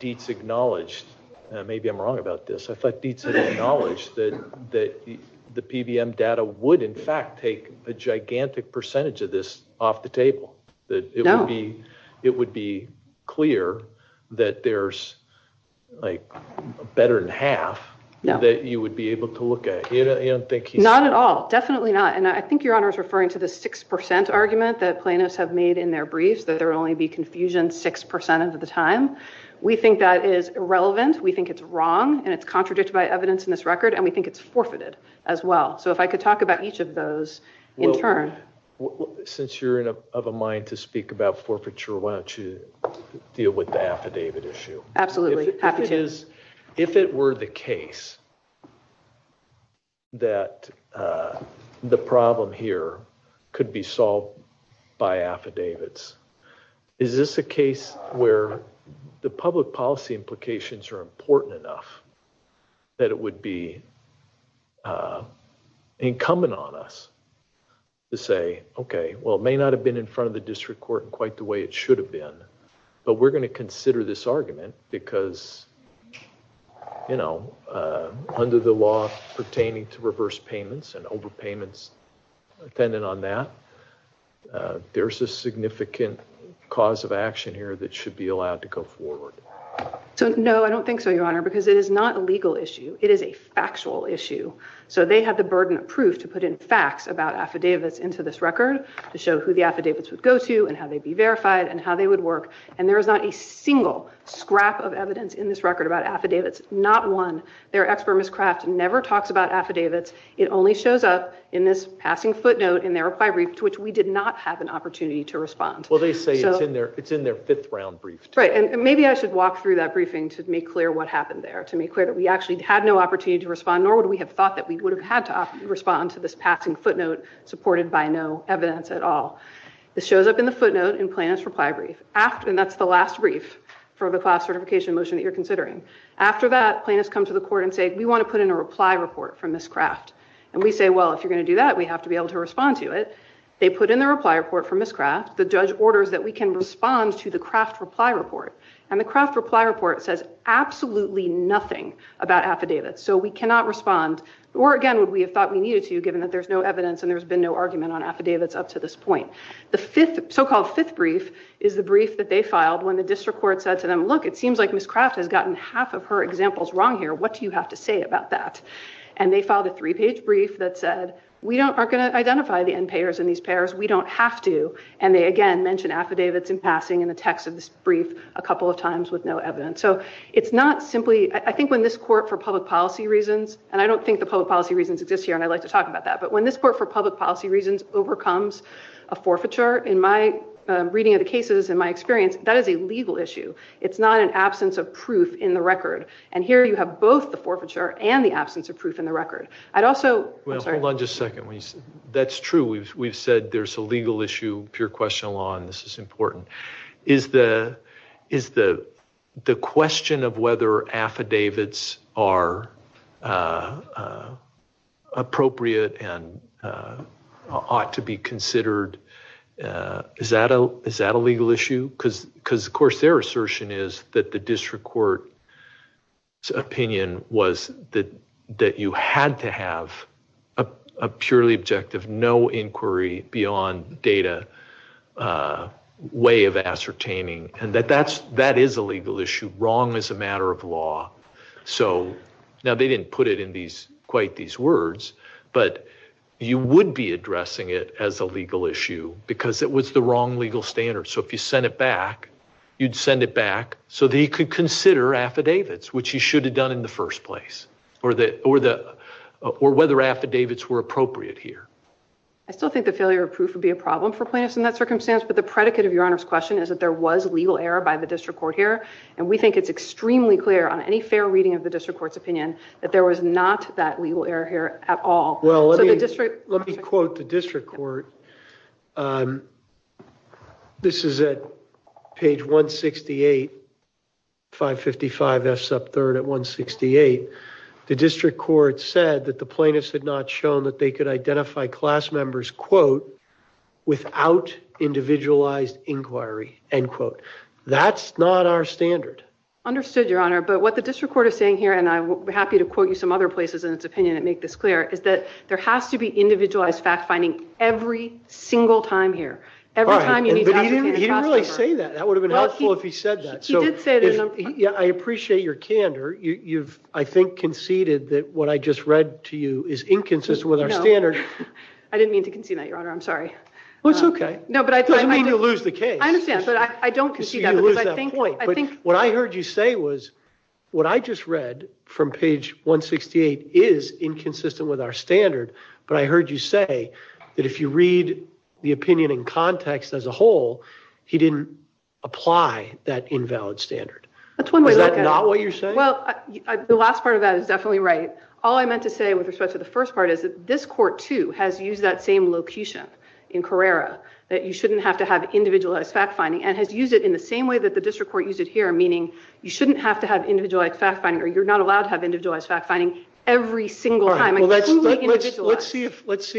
Dietz acknowledged, maybe I'm wrong about this, I thought Dietz acknowledged that the PBM data would, in fact, take a gigantic percentage of this off the table, that it would be clear that there's a better than half that you would be able to look at. Not at all, definitely not, and I think your Honor is referring to the 6% argument that plaintiffs have made in their briefs that there will only be confusion 6% of the time. We think that is irrelevant, we think it's wrong, and it's contradicted by evidence in this record, and we think it's forfeited as well. So if I could talk about each of those in turn. Since you're of a mind to speak about forfeiture, why don't you deal with the affidavit issue? Absolutely, affidavits. If it were the case that the problem here could be solved by affidavits, is this a case where the public policy implications are important enough that it would be incumbent on us to say, okay, well it may not have been in front of the district court in quite the way it should have been, but we're gonna consider this argument because, you know, under the law pertaining to reverse payments and overpayments dependent on that, there's a significant cause of action here that should be allowed to go forward. No, I don't think so, Your Honor, because it is not a legal issue. It is a factual issue. So they have the burden of proof to put in facts about affidavits into this record to show who the affidavits would go to and how they'd be verified and how they would work, and there is not a single scrap of evidence in this record about affidavits, not one. Their expert, Ms. Craft, never talks about affidavits. It only shows up in this passing footnote in their reply brief to which we did not have an opportunity to respond. Well, they say it's in their fifth round brief. Right, and maybe I should walk through that briefing to make clear what happened there, to make clear that we actually had no opportunity to respond, nor would we have thought that we would have had to respond to this passing footnote supported by no evidence at all. It shows up in the footnote in Plaintiff's reply brief, and that's the last brief for the class certification motion that you're considering. After that, plaintiffs come to the court and say, we want to put in a reply report from Ms. Craft, and we say, well, if you're going to do that, we have to be able to respond to it. They put in the reply report from Ms. Craft. The judge orders that we can respond to the craft reply report, and the craft reply report says absolutely nothing about affidavits, so we cannot respond, or again, we thought we needed to given that there's no evidence and there's been no argument on affidavits up to this point. The so-called fifth brief is the brief that they filed when the district court said to them, look, it seems like Ms. Craft has gotten half of her examples wrong here. What do you have to say about that? And they filed a three-page brief that said, we aren't going to identify the end payers and these payers. We don't have to, and they again mention affidavits in passing in the text of this brief a couple of times with no evidence, so it's not simply, I think when this court for public policy reasons, and I don't think the public policy reasons exist here, and I like to talk about that, but when this court for public policy reasons overcomes a forfeiture, in my reading of the cases and my experience, that is a legal issue. It's not an absence of proof in the record, and here you have both the forfeiture and the absence of proof in the record. Hold on just a second. That's true. We've said there's a legal issue, pure question of law, and this is important. Is the question of whether affidavits are appropriate and ought to be considered, Because of course their assertion is that the district court's opinion was that you had to have a purely objective, no inquiry beyond data way of ascertaining, and that that is a legal issue, wrong as a matter of law. So now they didn't put it in quite these words, but you would be addressing it as a legal issue because it was the wrong legal standard, so if you sent it back, you'd send it back so that you could consider affidavits, which you should have done in the first place, or whether affidavits were appropriate here. I still think the failure of proof would be a problem for plaintiffs in that circumstance, but the predicate of Your Honor's question is that there was legal error by the district court here, and we think it's extremely clear on any fair reading of the district court's opinion that there was not that legal error here at all. Well, let me quote the district court. This is at page 168, 555F sub 3rd at 168. The district court said that the plaintiffs had not shown that they could identify class members, quote, without individualized inquiry, end quote. That's not our standard. Understood, Your Honor, but what the district court is saying here, and I'm happy to quote you some other places in its opinion that make this clear, is that there has to be individualized fact-finding every single time here. Every time you meet with the district court. He didn't really say that. That would have been helpful if he said that. He did say that. I appreciate your candor. You've, I think, conceded that what I just read to you is inconsistent with our standard. No. I didn't mean to concede that, Your Honor, I'm sorry. Well, it's okay. I didn't mean to lose the case. I understand, but I don't concede that. I see you lose that point, but what I heard you say was what I just read from page 168 is inconsistent with our standard, but I heard you say that if you read the opinion in context as a whole, he didn't apply that invalid standard. That's one way to look at it. Is that not what you're saying? Well, the last part of that is definitely right. All I meant to say with respect to the first part is that this court, too, has used that same location in Carrera that you shouldn't have to have individualized fact-finding and has used it in the same way that the district court used it here, meaning you shouldn't have to have individualized fact-finding or you're not allowed to have individualized fact-finding every single time. Let's see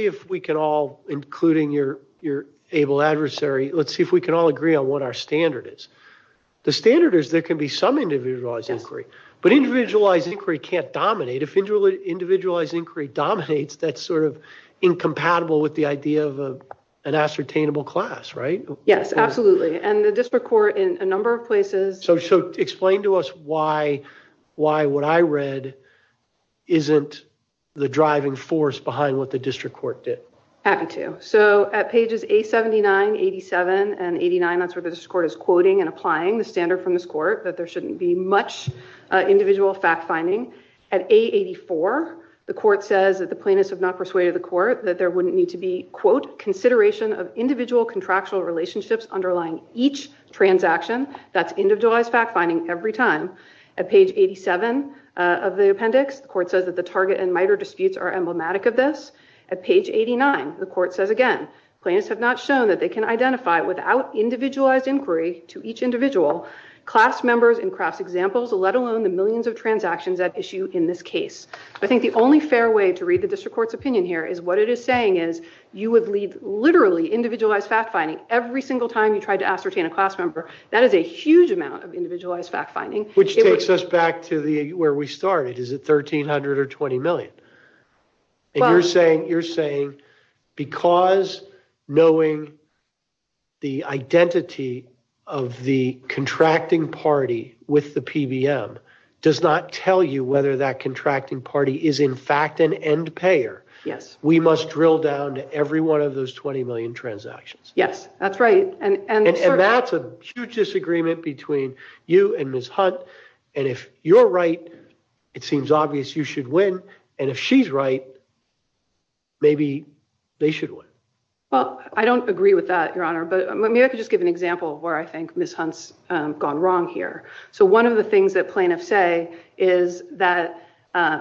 if we can all, including your able adversary, let's see if we can all agree on what our standard is. The standard is there can be some individualized inquiry, but individualized inquiry can't dominate. If individualized inquiry dominates, that's sort of incompatible with the idea of an ascertainable class, right? Yes, absolutely. And the district court in a number of places... So explain to us why what I read isn't the driving force behind what the district court did. Happy to. So at pages A79, 87, and 89, that's where the district court is quoting and applying the standard from this court that there shouldn't be much individual fact-finding. At A84, the court says that the plaintiffs have not persuaded the court that there wouldn't need to be, quote, consideration of individual contractual relationships underlying each transaction. That's individualized fact-finding every time. At page 87 of the appendix, the court says that the target and MITRE disputes are emblematic of this. At page 89, the court says again, plaintiffs have not shown that they can identify without individualized inquiry to each individual, class members and cross-examples, let alone the millions of transactions at issue in this case. I think the only fair way to read the district court's opinion here is what it is saying is you would leave literally individualized fact-finding every single time you tried to ascertain a class member. That is a huge amount of individualized fact-finding. Which takes us back to where we started. Is it 1,300 or 20 million? You're saying because knowing the identity of the contracting party with the PBM does not tell you whether that contracting party is in fact an end payer, we must drill down to every one of those 20 million transactions. Yes, that's right. And that's a huge disagreement between you and Ms. Hunt. And if you're right, it seems obvious you should win. And if she's right, maybe they should win. Well, I don't agree with that, Your Honor, but maybe I could just give an example of where I think Ms. Hunt's gone wrong here. So one of the things that plaintiffs say is that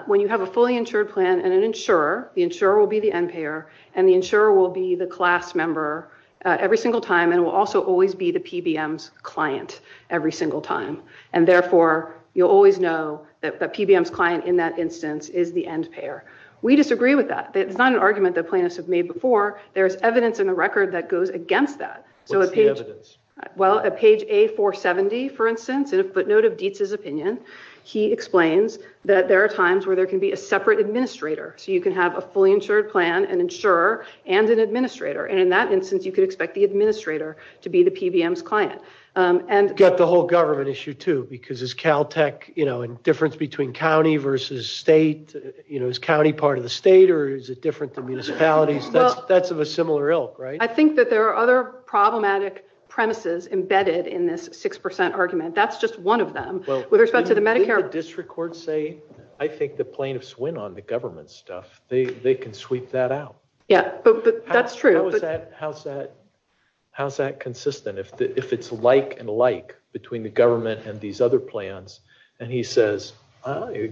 when you have a fully insured plan and an insurer, the insurer will be the end payer, and the insurer will be the class member every single time and will also always be the PBM's client every single time. And therefore, you'll always know that the PBM's client in that instance is the end payer. We disagree with that. It's not an argument that plaintiffs have made before. There's evidence in the record that goes against that. What is the evidence? Well, at page A470, for instance, in a footnote of Dietz's opinion, he explains that there are times where there can be a separate administrator. So you can have a fully insured plan, an insurer, and an administrator. And in that instance, you could expect the administrator to be the PBM's client. You've got the whole government issue too, because as Caltech, you know, difference between county versus state, you know, is county part of the state or is it different from municipalities? That's of a similar ilk, right? I think that there are other problematic premises embedded in this 6% argument. That's just one of them. With respect to the Medicare... Well, wouldn't the district court say, I think the plaintiffs win on the government stuff. They can sweep that out. Yeah, that's true. How's that consistent? If it's like and like between the government and these other plans, and he says,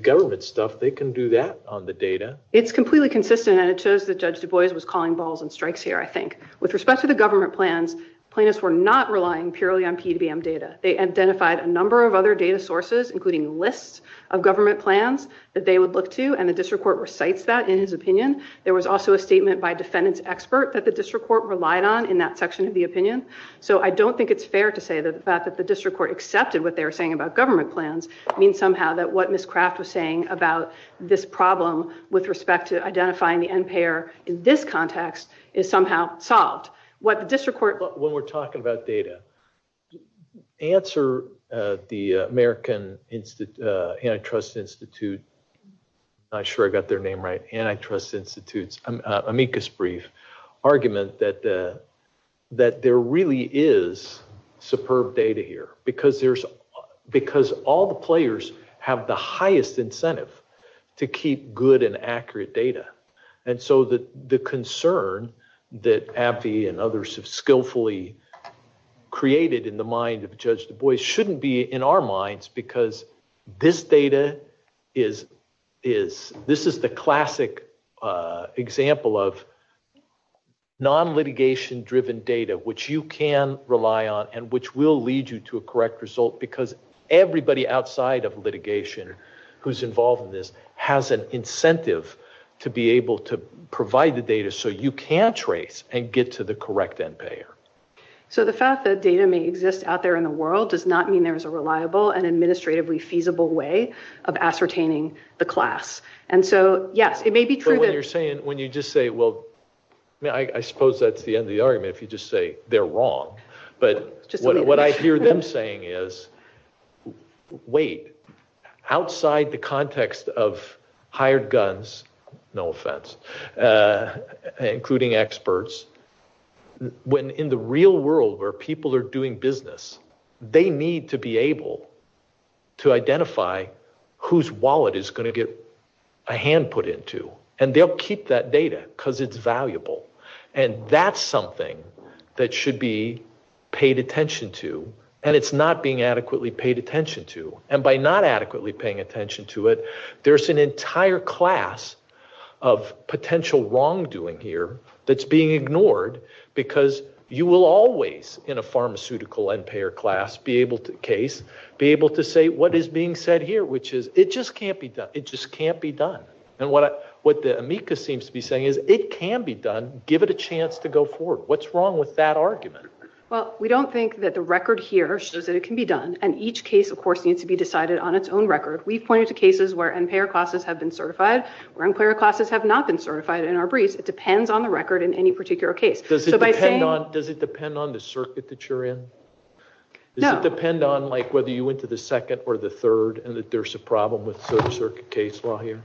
government stuff, they can do that on the data. It's completely consistent and it shows that Judge Du Bois was calling balls and strikes here, I think. With respect to the government plans, plaintiffs were not relying purely on PDBM data. They identified a number of other data sources, including lists of government plans that they would look to and the district court recites that in his opinion. There was also a statement by a defendant's expert that the district court relied on in that section of the opinion. So I don't think it's fair to say that the district court accepted what they were saying about government plans. It means somehow that what Ms. Kraft was saying about this problem with respect to identifying the end payer in this context is somehow solved. What the district court... When we're talking about data, answer the American Antitrust Institute, not sure I got their name right, Antitrust Institute's amicus brief argument that there really is superb data here because all the players have the highest incentive to keep good and accurate data. And so the concern that AbbVie and others have skillfully created in the mind of Judge DuBois shouldn't be in our minds because this data is... This is the classic example of non-litigation driven data which you can rely on and which will lead you to a correct result because everybody outside of litigation who's involved in this has an incentive to be able to provide the data so you can trace and get to the correct end payer. So the fact that data may exist out there in the world does not mean there's a reliable and administratively feasible way of ascertaining the class. And so, yes, it may be true that... So what you're saying, when you just say, well... I suppose that's the end of the argument if you just say they're wrong. But what I hear them saying is, wait, outside the context of hired guns, no offense, including experts, when in the real world where people are doing business, they need to be able to identify whose wallet is going to get a hand put into. And they'll keep that data because it's valuable. And that's something that should be paid attention to. And it's not being adequately paid attention to. And by not adequately paying attention to it, there's an entire class of potential wrongdoing here that's being ignored because you will always, in a pharmaceutical end payer case, be able to say, what is being said here, which is it just can't be done. It just can't be done. And what the amicus seems to be saying is it can be done. Give it a chance to go forward. What's wrong with that argument? Well, we don't think that the record here shows that it can be done. And each case, of course, needs to be decided on its own record. We point to cases where end payer classes have been certified or end payer classes have not been certified in our briefs. It depends on the record in any particular case. Does it depend on the circuit that you're in? No. Does it depend on whether you went to the second or the third and that there's a problem with the circuit case law here?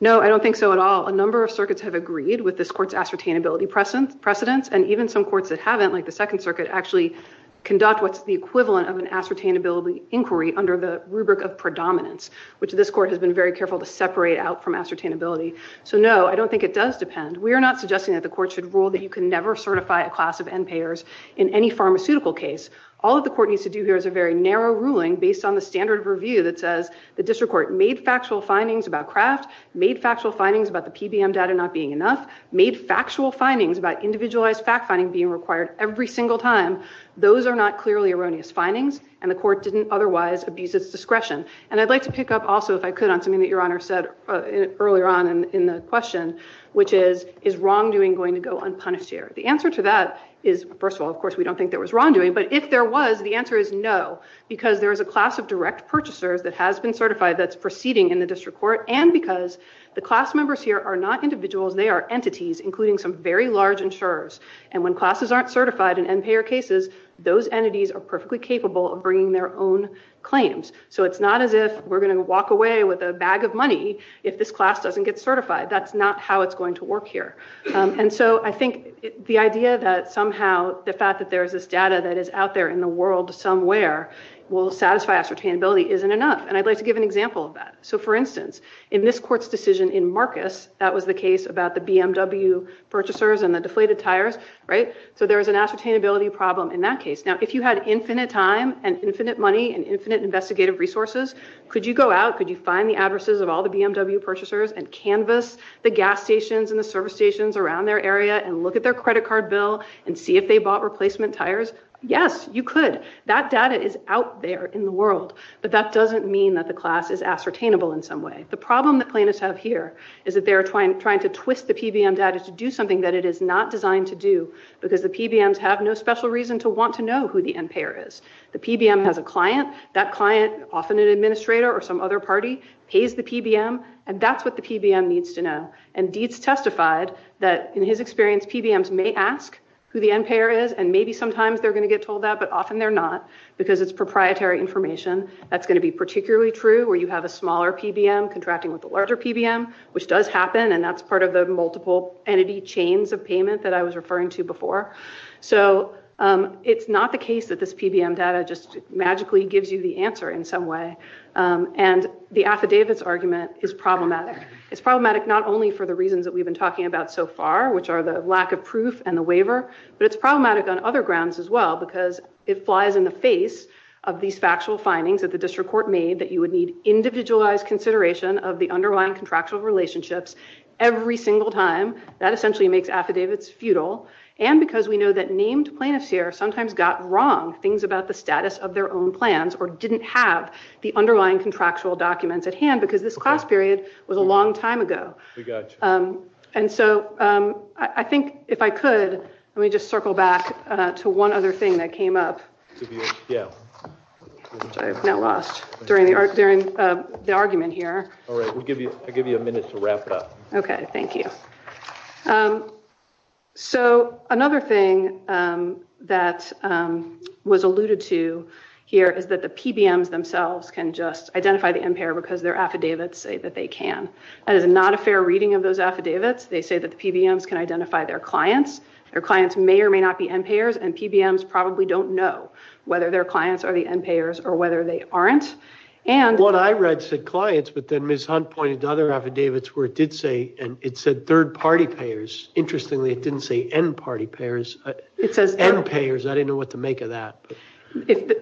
No, I don't think so at all. A number of circuits have agreed with this court's ascertainability precedence and even some courts that haven't, like the Second Circuit, actually conduct what's the equivalent of an ascertainability inquiry under the rubric of predominance, which this court has been very careful to separate out from ascertainability. So, no, I don't think it does depend. We are not suggesting that the court should rule that you can never certify a class of end payers in any pharmaceutical case. All that the court needs to do here is a very narrow ruling based on the standard of review that says the district court made factual findings about crafts, made factual findings about the PBM data not being enough, made factual findings about individualized fact finding being required every single time. Those are not clearly erroneous findings and the court didn't otherwise abuse its discretion. And I'd like to pick up also, if I could, on something that Your Honor said earlier on in the question, which is, is wrongdoing going to go unpunished here? The answer to that is, first of all, of course, we don't think there was wrongdoing, but if there was, the answer is no because there is a class of direct purchasers that has been certified that's proceeding in the district court and because the class members here are not individuals, they are entities including some very large insurers and when classes aren't certified in end payer cases, those entities are perfectly capable of bringing their own claims. So it's not as if we're going to walk away with a bag of money if this class doesn't get certified. That's not how it's going to work here. And so, I think the idea that somehow the fact that there's this data that is out there in the world somewhere will satisfy acceptability isn't enough and I'd like to give an example of that. So for instance, in this court's decision in Marcus, that was the case about the BMW purchasers and the deflated tires, right? So there's an ascertainability problem in that case. Now, if you had infinite time and infinite money and infinite investigative resources, could you go out, could you find the addresses of all the BMW purchasers and canvas the gas stations and the service stations around their area and look at their credit card bill and see if they bought replacement tires? Yes, you could. That data is out there in the world, but that doesn't mean that the class is ascertainable in some way. The problem that plaintiffs have here is that they're trying to twist the PBM data to do something that it is not designed to do because the PBMs have no special reason to want to know who the end payer is. The PBM has a client. That client, often an administrator or some other party, pays the PBM and that's what the PBM needs to know and Dietz testified that in his experience, PBMs may ask who the end payer is and maybe sometimes they're going to get told that, but often they're not because it's proprietary information that's going to be particularly true where you have a smaller PBM contracting with a larger PBM, which does happen and that's part of the multiple entity chains of payment that I was referring to before. So it's not the case that this PBM data just magically gives you the answer in some way and the affidavits argument is problematic. It's problematic not only for the reasons that we've been talking about so far, which are the lack of proof and the waiver, but it's problematic on other grounds as well because it flies in the face of these factual findings that the district court made that you would need individualized consideration of the underlying contractual relationships every single time. That essentially makes affidavits futile and because we know that named plaintiffs here sometimes got wrong things about the status of their own plans or didn't have the underlying contractual documents at hand because this cost period was a long time ago. And so I think if I could, let me just circle back to one other thing that came up. Sorry, I got lost during the argument here. All right, I'll give you a minute to wrap up. Okay, thank you. So another thing that was alluded to here is that the PBMs themselves can just identify the impayer because their affidavits say that they can. That is not a fair reading of those affidavits. They say that the PBMs can identify their clients. Their clients may or may not be impayers and PBMs probably don't know whether their clients are the impayers or whether they aren't. What I read said clients, but then Ms. Hunt pointed to other affidavits where it did say and it said third-party payers. Interestingly, it didn't say end-party payers. It says end-payers. I didn't know what to make of that.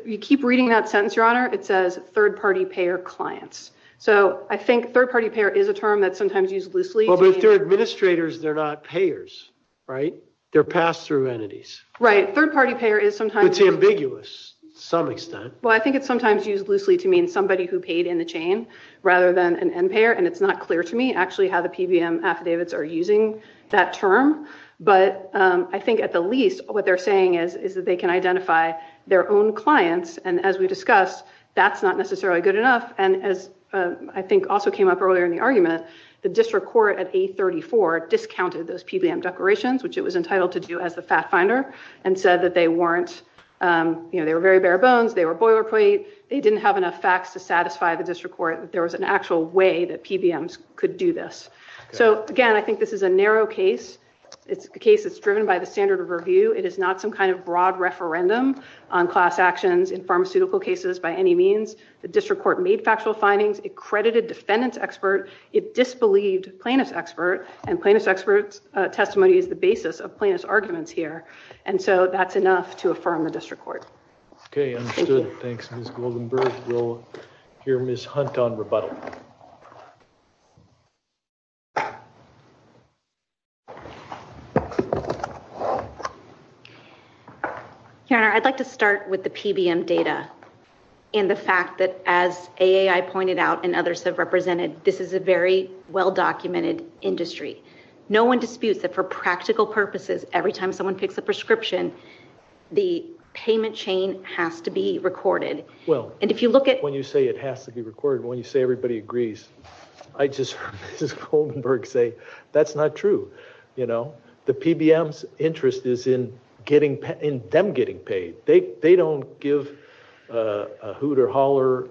You keep reading that sentence, Your Honor. It says third-party payer clients. So I think third-party payer is a term that's sometimes used loosely. Well, if they're administrators, they're not payers, right? They're pass-through entities. Right, third-party payer is sometimes... It's ambiguous to some extent. Well, I think it's sometimes used loosely to mean somebody who paid in the chain rather than an impayer and it's not clear to me actually how the PBM affidavits are using that term, but I think at the least what they're saying is that they can identify their own clients and as we discussed, that's not necessarily good enough and as I think also came up earlier in the argument, the district court at 834 discounted those PBM declarations, which it was entitled to do as a fact finder and said that they weren't you know, they were very bare-bones, they were boilerplate, they didn't have enough facts to satisfy the district court, that there was an actual way that PBMs could do this. So again, I think this is a narrow case. It's a case that's driven by the standard of review. It is not some kind of broad referendum on class actions in pharmaceutical cases by any means. The district court made factual findings, accredited defendant's expert, it disbelieved plaintiff's expert and plaintiff's expert's testimony is the basis of plaintiff's arguments here and so that's enough to affirm the district court. Okay. Understood. Thanks, Ms. Goldenberg. We'll hear Ms. Hunt on rebuttal. Senator, I'd like to start with the PBM data and the fact that as AAI pointed out and others have represented, this is a very well-documented industry. No one disputes that for practical purposes, every time someone picks a prescription, the payment chain has to be recorded. Well, when you say it has to be recorded, when you say everybody agrees, I just, Ms. Goldenberg, say that's not true. The PBM's interest is in them getting paid. They don't give a hoot or holler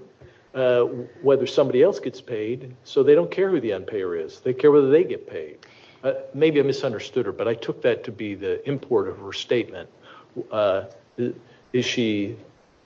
whether somebody else gets paid so they don't care who the unpayer is. They care whether they get paid. Maybe I misunderstood her but I took that to be the import of her statement.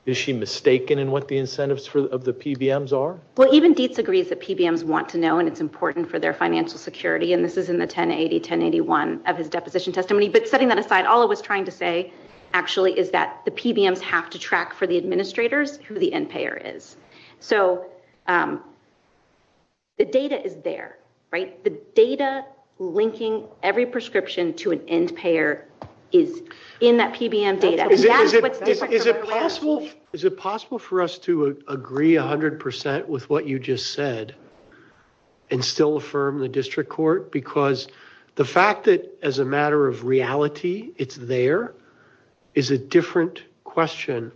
Is she mistaken in what the incentives of the PBMs are? Even Dietz agrees that PBMs want to know and it's important for their financial security and this is in the 1080-1081 of his deposition testimony but setting that aside, all I was trying to say actually is that the PBMs have to track for the administrators who the unpayer is. So, the data is there. The data linking every prescription to an unpayer is in that PBM data. Is it possible for us to agree 100% with what you just said and still affirm the district court because the fact that as a matter of reality, it's there is a different question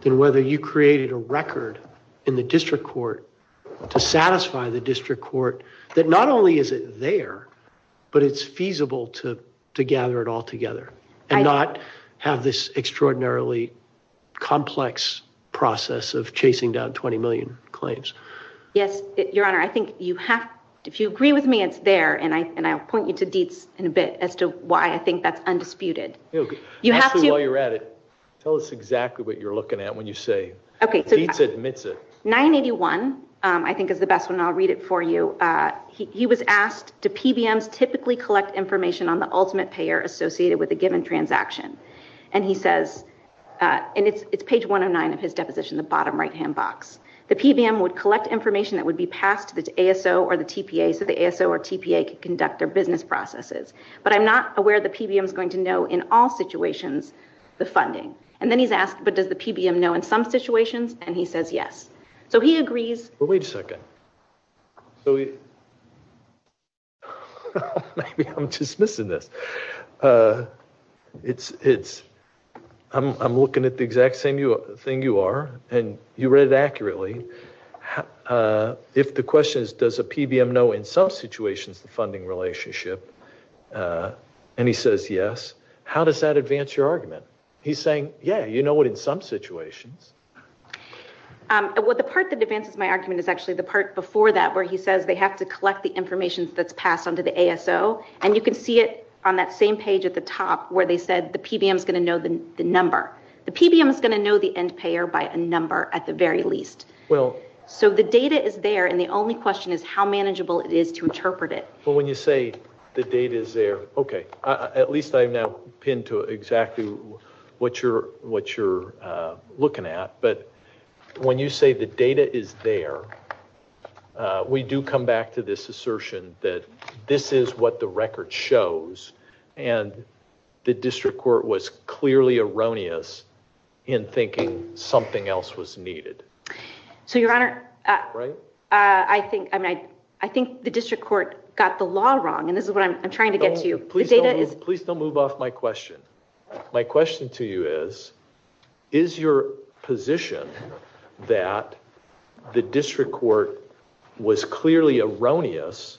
than whether you created a record in the district court to satisfy the district court that not only is it there but it's feasible to gather it all together and not have this extraordinarily complex process of chasing down 20 million claims. Yes, Your Honor. I think you have to... If you agree with me, it's there and I'll point you to Dietz in a bit as to why I think that's undisputed. Actually, while you're at it, tell us exactly what you're looking at when you say it. Dietz admits it. 981, I think is the best one. I'll read it for you. He was asked, do PBMs typically collect information on the ultimate payer associated with a given transaction? It's page 109 of his deposition, the bottom right-hand box. The PBM would collect information that would be passed to the ASO or the TPA so the ASO or TPA can conduct their business processes but I'm not aware the PBM's going to know in all situations the funding. Then he's asked, but does the PBM know in some situations? He says yes. He agrees... Wait a second. Maybe I'm just missing this. I'm looking at the exact same thing you are and you read it accurately. If the question is, does the PBM know in some situations the funding relationship and he says yes, how does that advance your argument? He's saying, yeah, you know it in some situations. The part that advances my argument is actually the part before that where he says they have to collect the information that's passed on to the ASO and you can see it on that same page at the top where they said the PBM's going to know the number. The PBM's going to know the end payer by a number at the very least. So the data is there and the only question is how manageable it is to interpret it. But when you say the data is there, okay, at least I now pinned to exactly what you're looking at but when you say the data is there, we do come back to this assertion that this is what the record shows and the district court was clearly erroneous in thinking something else was needed. So your honor, I think the district court got the law wrong and this is what I'm trying to get to. Please don't move off my question. My question to you is, is your position that the district court was clearly erroneous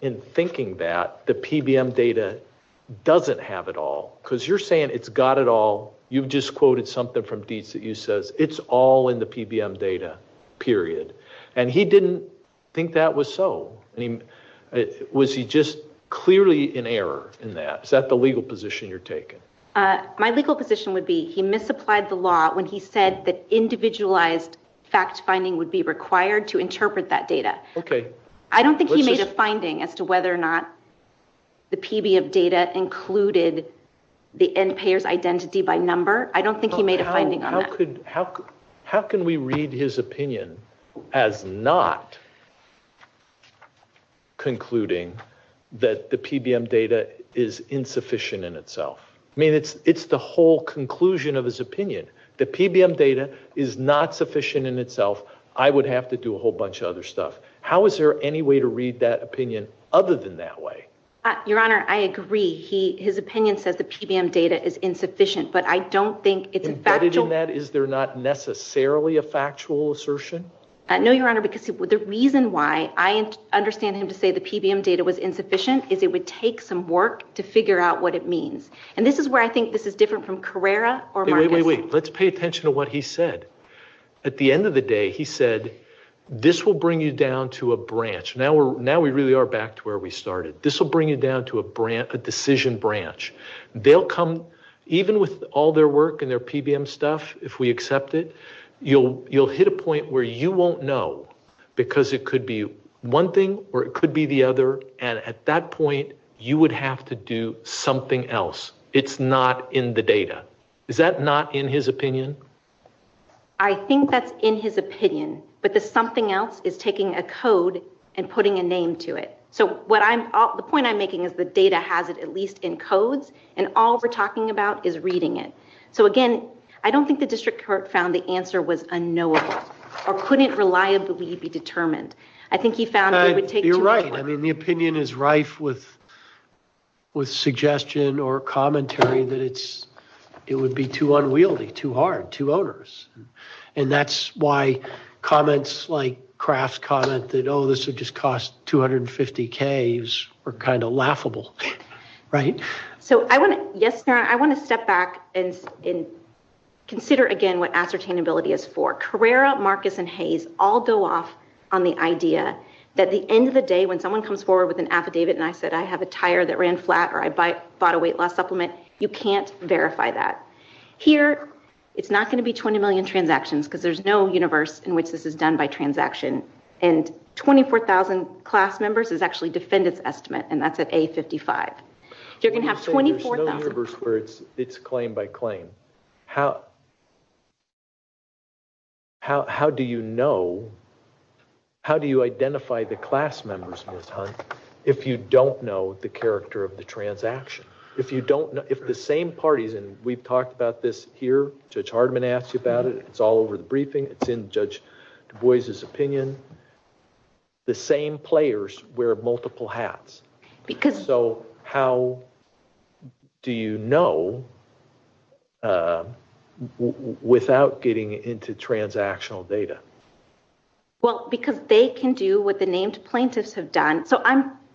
in thinking that the PBM data doesn't have it all because you're saying it's got it all. You've just quoted something from Dietz that you said it's all in the PBM data, period. And he didn't think that was so. Was he just clearly in error in that? Is that the legal position you're taking? My legal position would be he misapplied the law when he said that individualized fact finding would be required to interpret that data. Okay. I don't think he made a finding as to whether or not the PBM data included the end payers identity by number. I don't think he made a finding on that. How can we read his opinion as not concluding that the PBM data is insufficient in itself? I mean, it's the whole conclusion of his opinion. The PBM data is not sufficient in itself. I would have to do a whole bunch of other stuff. How is there any way to read that opinion other than that way? Your Honor, I agree. His opinion says the PBM data is insufficient, but I don't think it's factual. Embedded in that is there not necessarily a factual assertion? No, Your Honor, because the reason why I understand him to say the PBM data was insufficient is it would take some work to figure out what it means. And this is where I think this is different from Carrera or Martin. Wait, wait, wait. Let's pay attention to what he said. At the end of the day, he said, this will bring you down to a branch. Now we really are back to where we started. This will bring you down to a decision branch. They'll come, even with all their work and their PBM stuff, if we accept it, you'll hit a point where you won't know because it could be one thing or it could be the other, and at that point, you would have to do something else. It's not in the data. Is that not in his opinion? I think that's in his opinion. But the something else is taking a code and putting a name to it. So the point I'm making is the data has it at least in code, and all we're talking about is reading it. So again, I don't think the district court found the answer was unknowable or couldn't reliably be determined. I think he found it would take time. You're right. The opinion is rife with suggestion or commentary that it would be too unwieldy, too hard, too onerous. And that's why comments like Kraft's comment that, oh, this would just cost $250,000 were kind of laughable. Right? So I want to, yes, I want to step back and consider again what ascertainability is for. Carrera, Marcus, and Hayes all go off on the idea that the end of the day when someone comes forward with an affidavit and I said, I have a tire that ran flat or I bought a weight loss supplement, you can't verify that. Here, it's not going to be 20 million transactions because there's no universe in which this is done by transaction. And 24,000 class members is actually defendant's estimate and that's at A55. You're going to have 24,000... There's no universe where it's claim by claim. How... How do you know? How do you identify the class members, Ms. Hunt, if you don't know the character of the transaction? If you don't know... If the same parties and we've talked about this here, Judge Hardman asked you about it, it's all over the briefing, it's in Judge DuBois' opinion, the same players wear multiple hats. Because... So, how do you know without getting into transactional data? Well, because they can do what the named plaintiffs have done. So,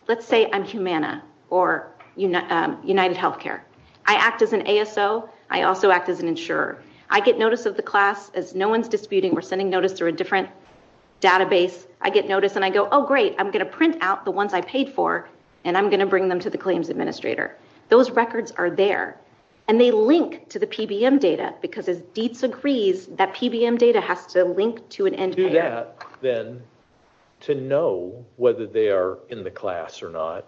let's say I'm Humana or United Healthcare. I act as an ASO. I also act as an insurer. I get notice of the class as no one's disputing or sending notice through a different database. I get notice and I go, oh, great, I'm going to print out the ones I paid for and I'm going to bring them to the claims administrator. Those records are there and they link to the PBM data because as Dietz agrees, that PBM data has to link to an NPO. Do that, then, to know whether they are in the class or not.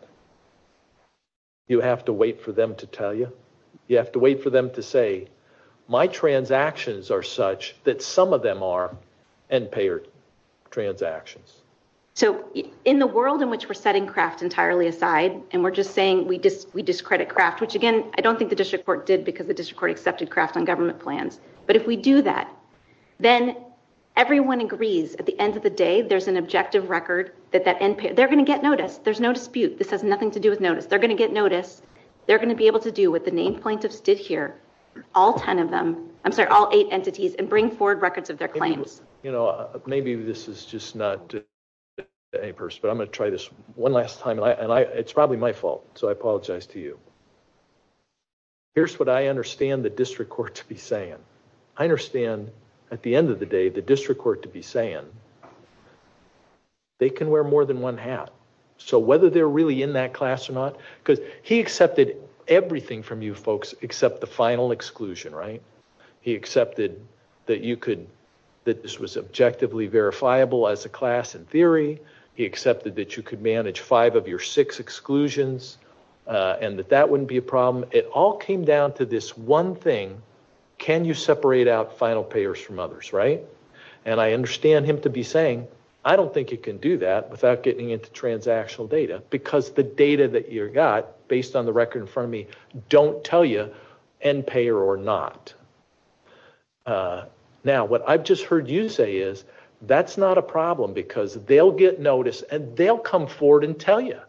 You have to wait for them to tell you. You have to wait for them to say, my transactions are such that some of them are end-payer transactions. So, in the world in which we're setting Kraft entirely aside and we're just saying we discredit Kraft, which, again, I don't think the district court did because the district court accepted Kraft on government plans. But if we do that, then everyone agrees at the end of the day that there's an objective record that they're going to get noticed. There's no dispute. This has nothing to do with notice. They're going to get noticed. They're going to be able to do what the main plaintiffs did here, all ten of them, I'm sorry, all eight entities and bring forward records of their claims. You know, maybe this is just not to any person, but I'm going to try this one last time and it's probably my fault, so I apologize to you. Here's what I understand the district court to be saying. I understand, at the end of the day, the district court to be saying they can wear more than one hat. So whether they're really in that class or not, because he accepted everything from you folks except the final exclusion, right? He accepted that you could, that this was objectively verifiable as a class in theory. He accepted that you could manage five of your six exclusions and that that wouldn't be a problem. It all came down to this one thing. Can you separate out final payers from others, right? And I understand him to be saying, I don't think you can do that without getting into transactional data because the data that you got based on the record in front of me don't tell you end payer or not. Now, what I've just heard you say is that's not a problem because they'll get notice and they'll come forward and tell you.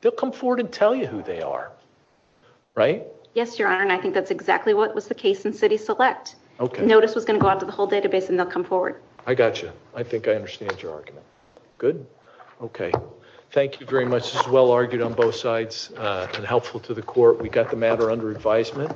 They'll come forward and tell you who they are. Right? Yes, Your Honor, and I think that's exactly what was the case in city select. Notice is going to go out to the whole database and they'll come forward. I got you. I think I understand your argument. Good? Okay. Thank you very much. It's well argued on both sides and helpful to the court. We got the matter under advisement.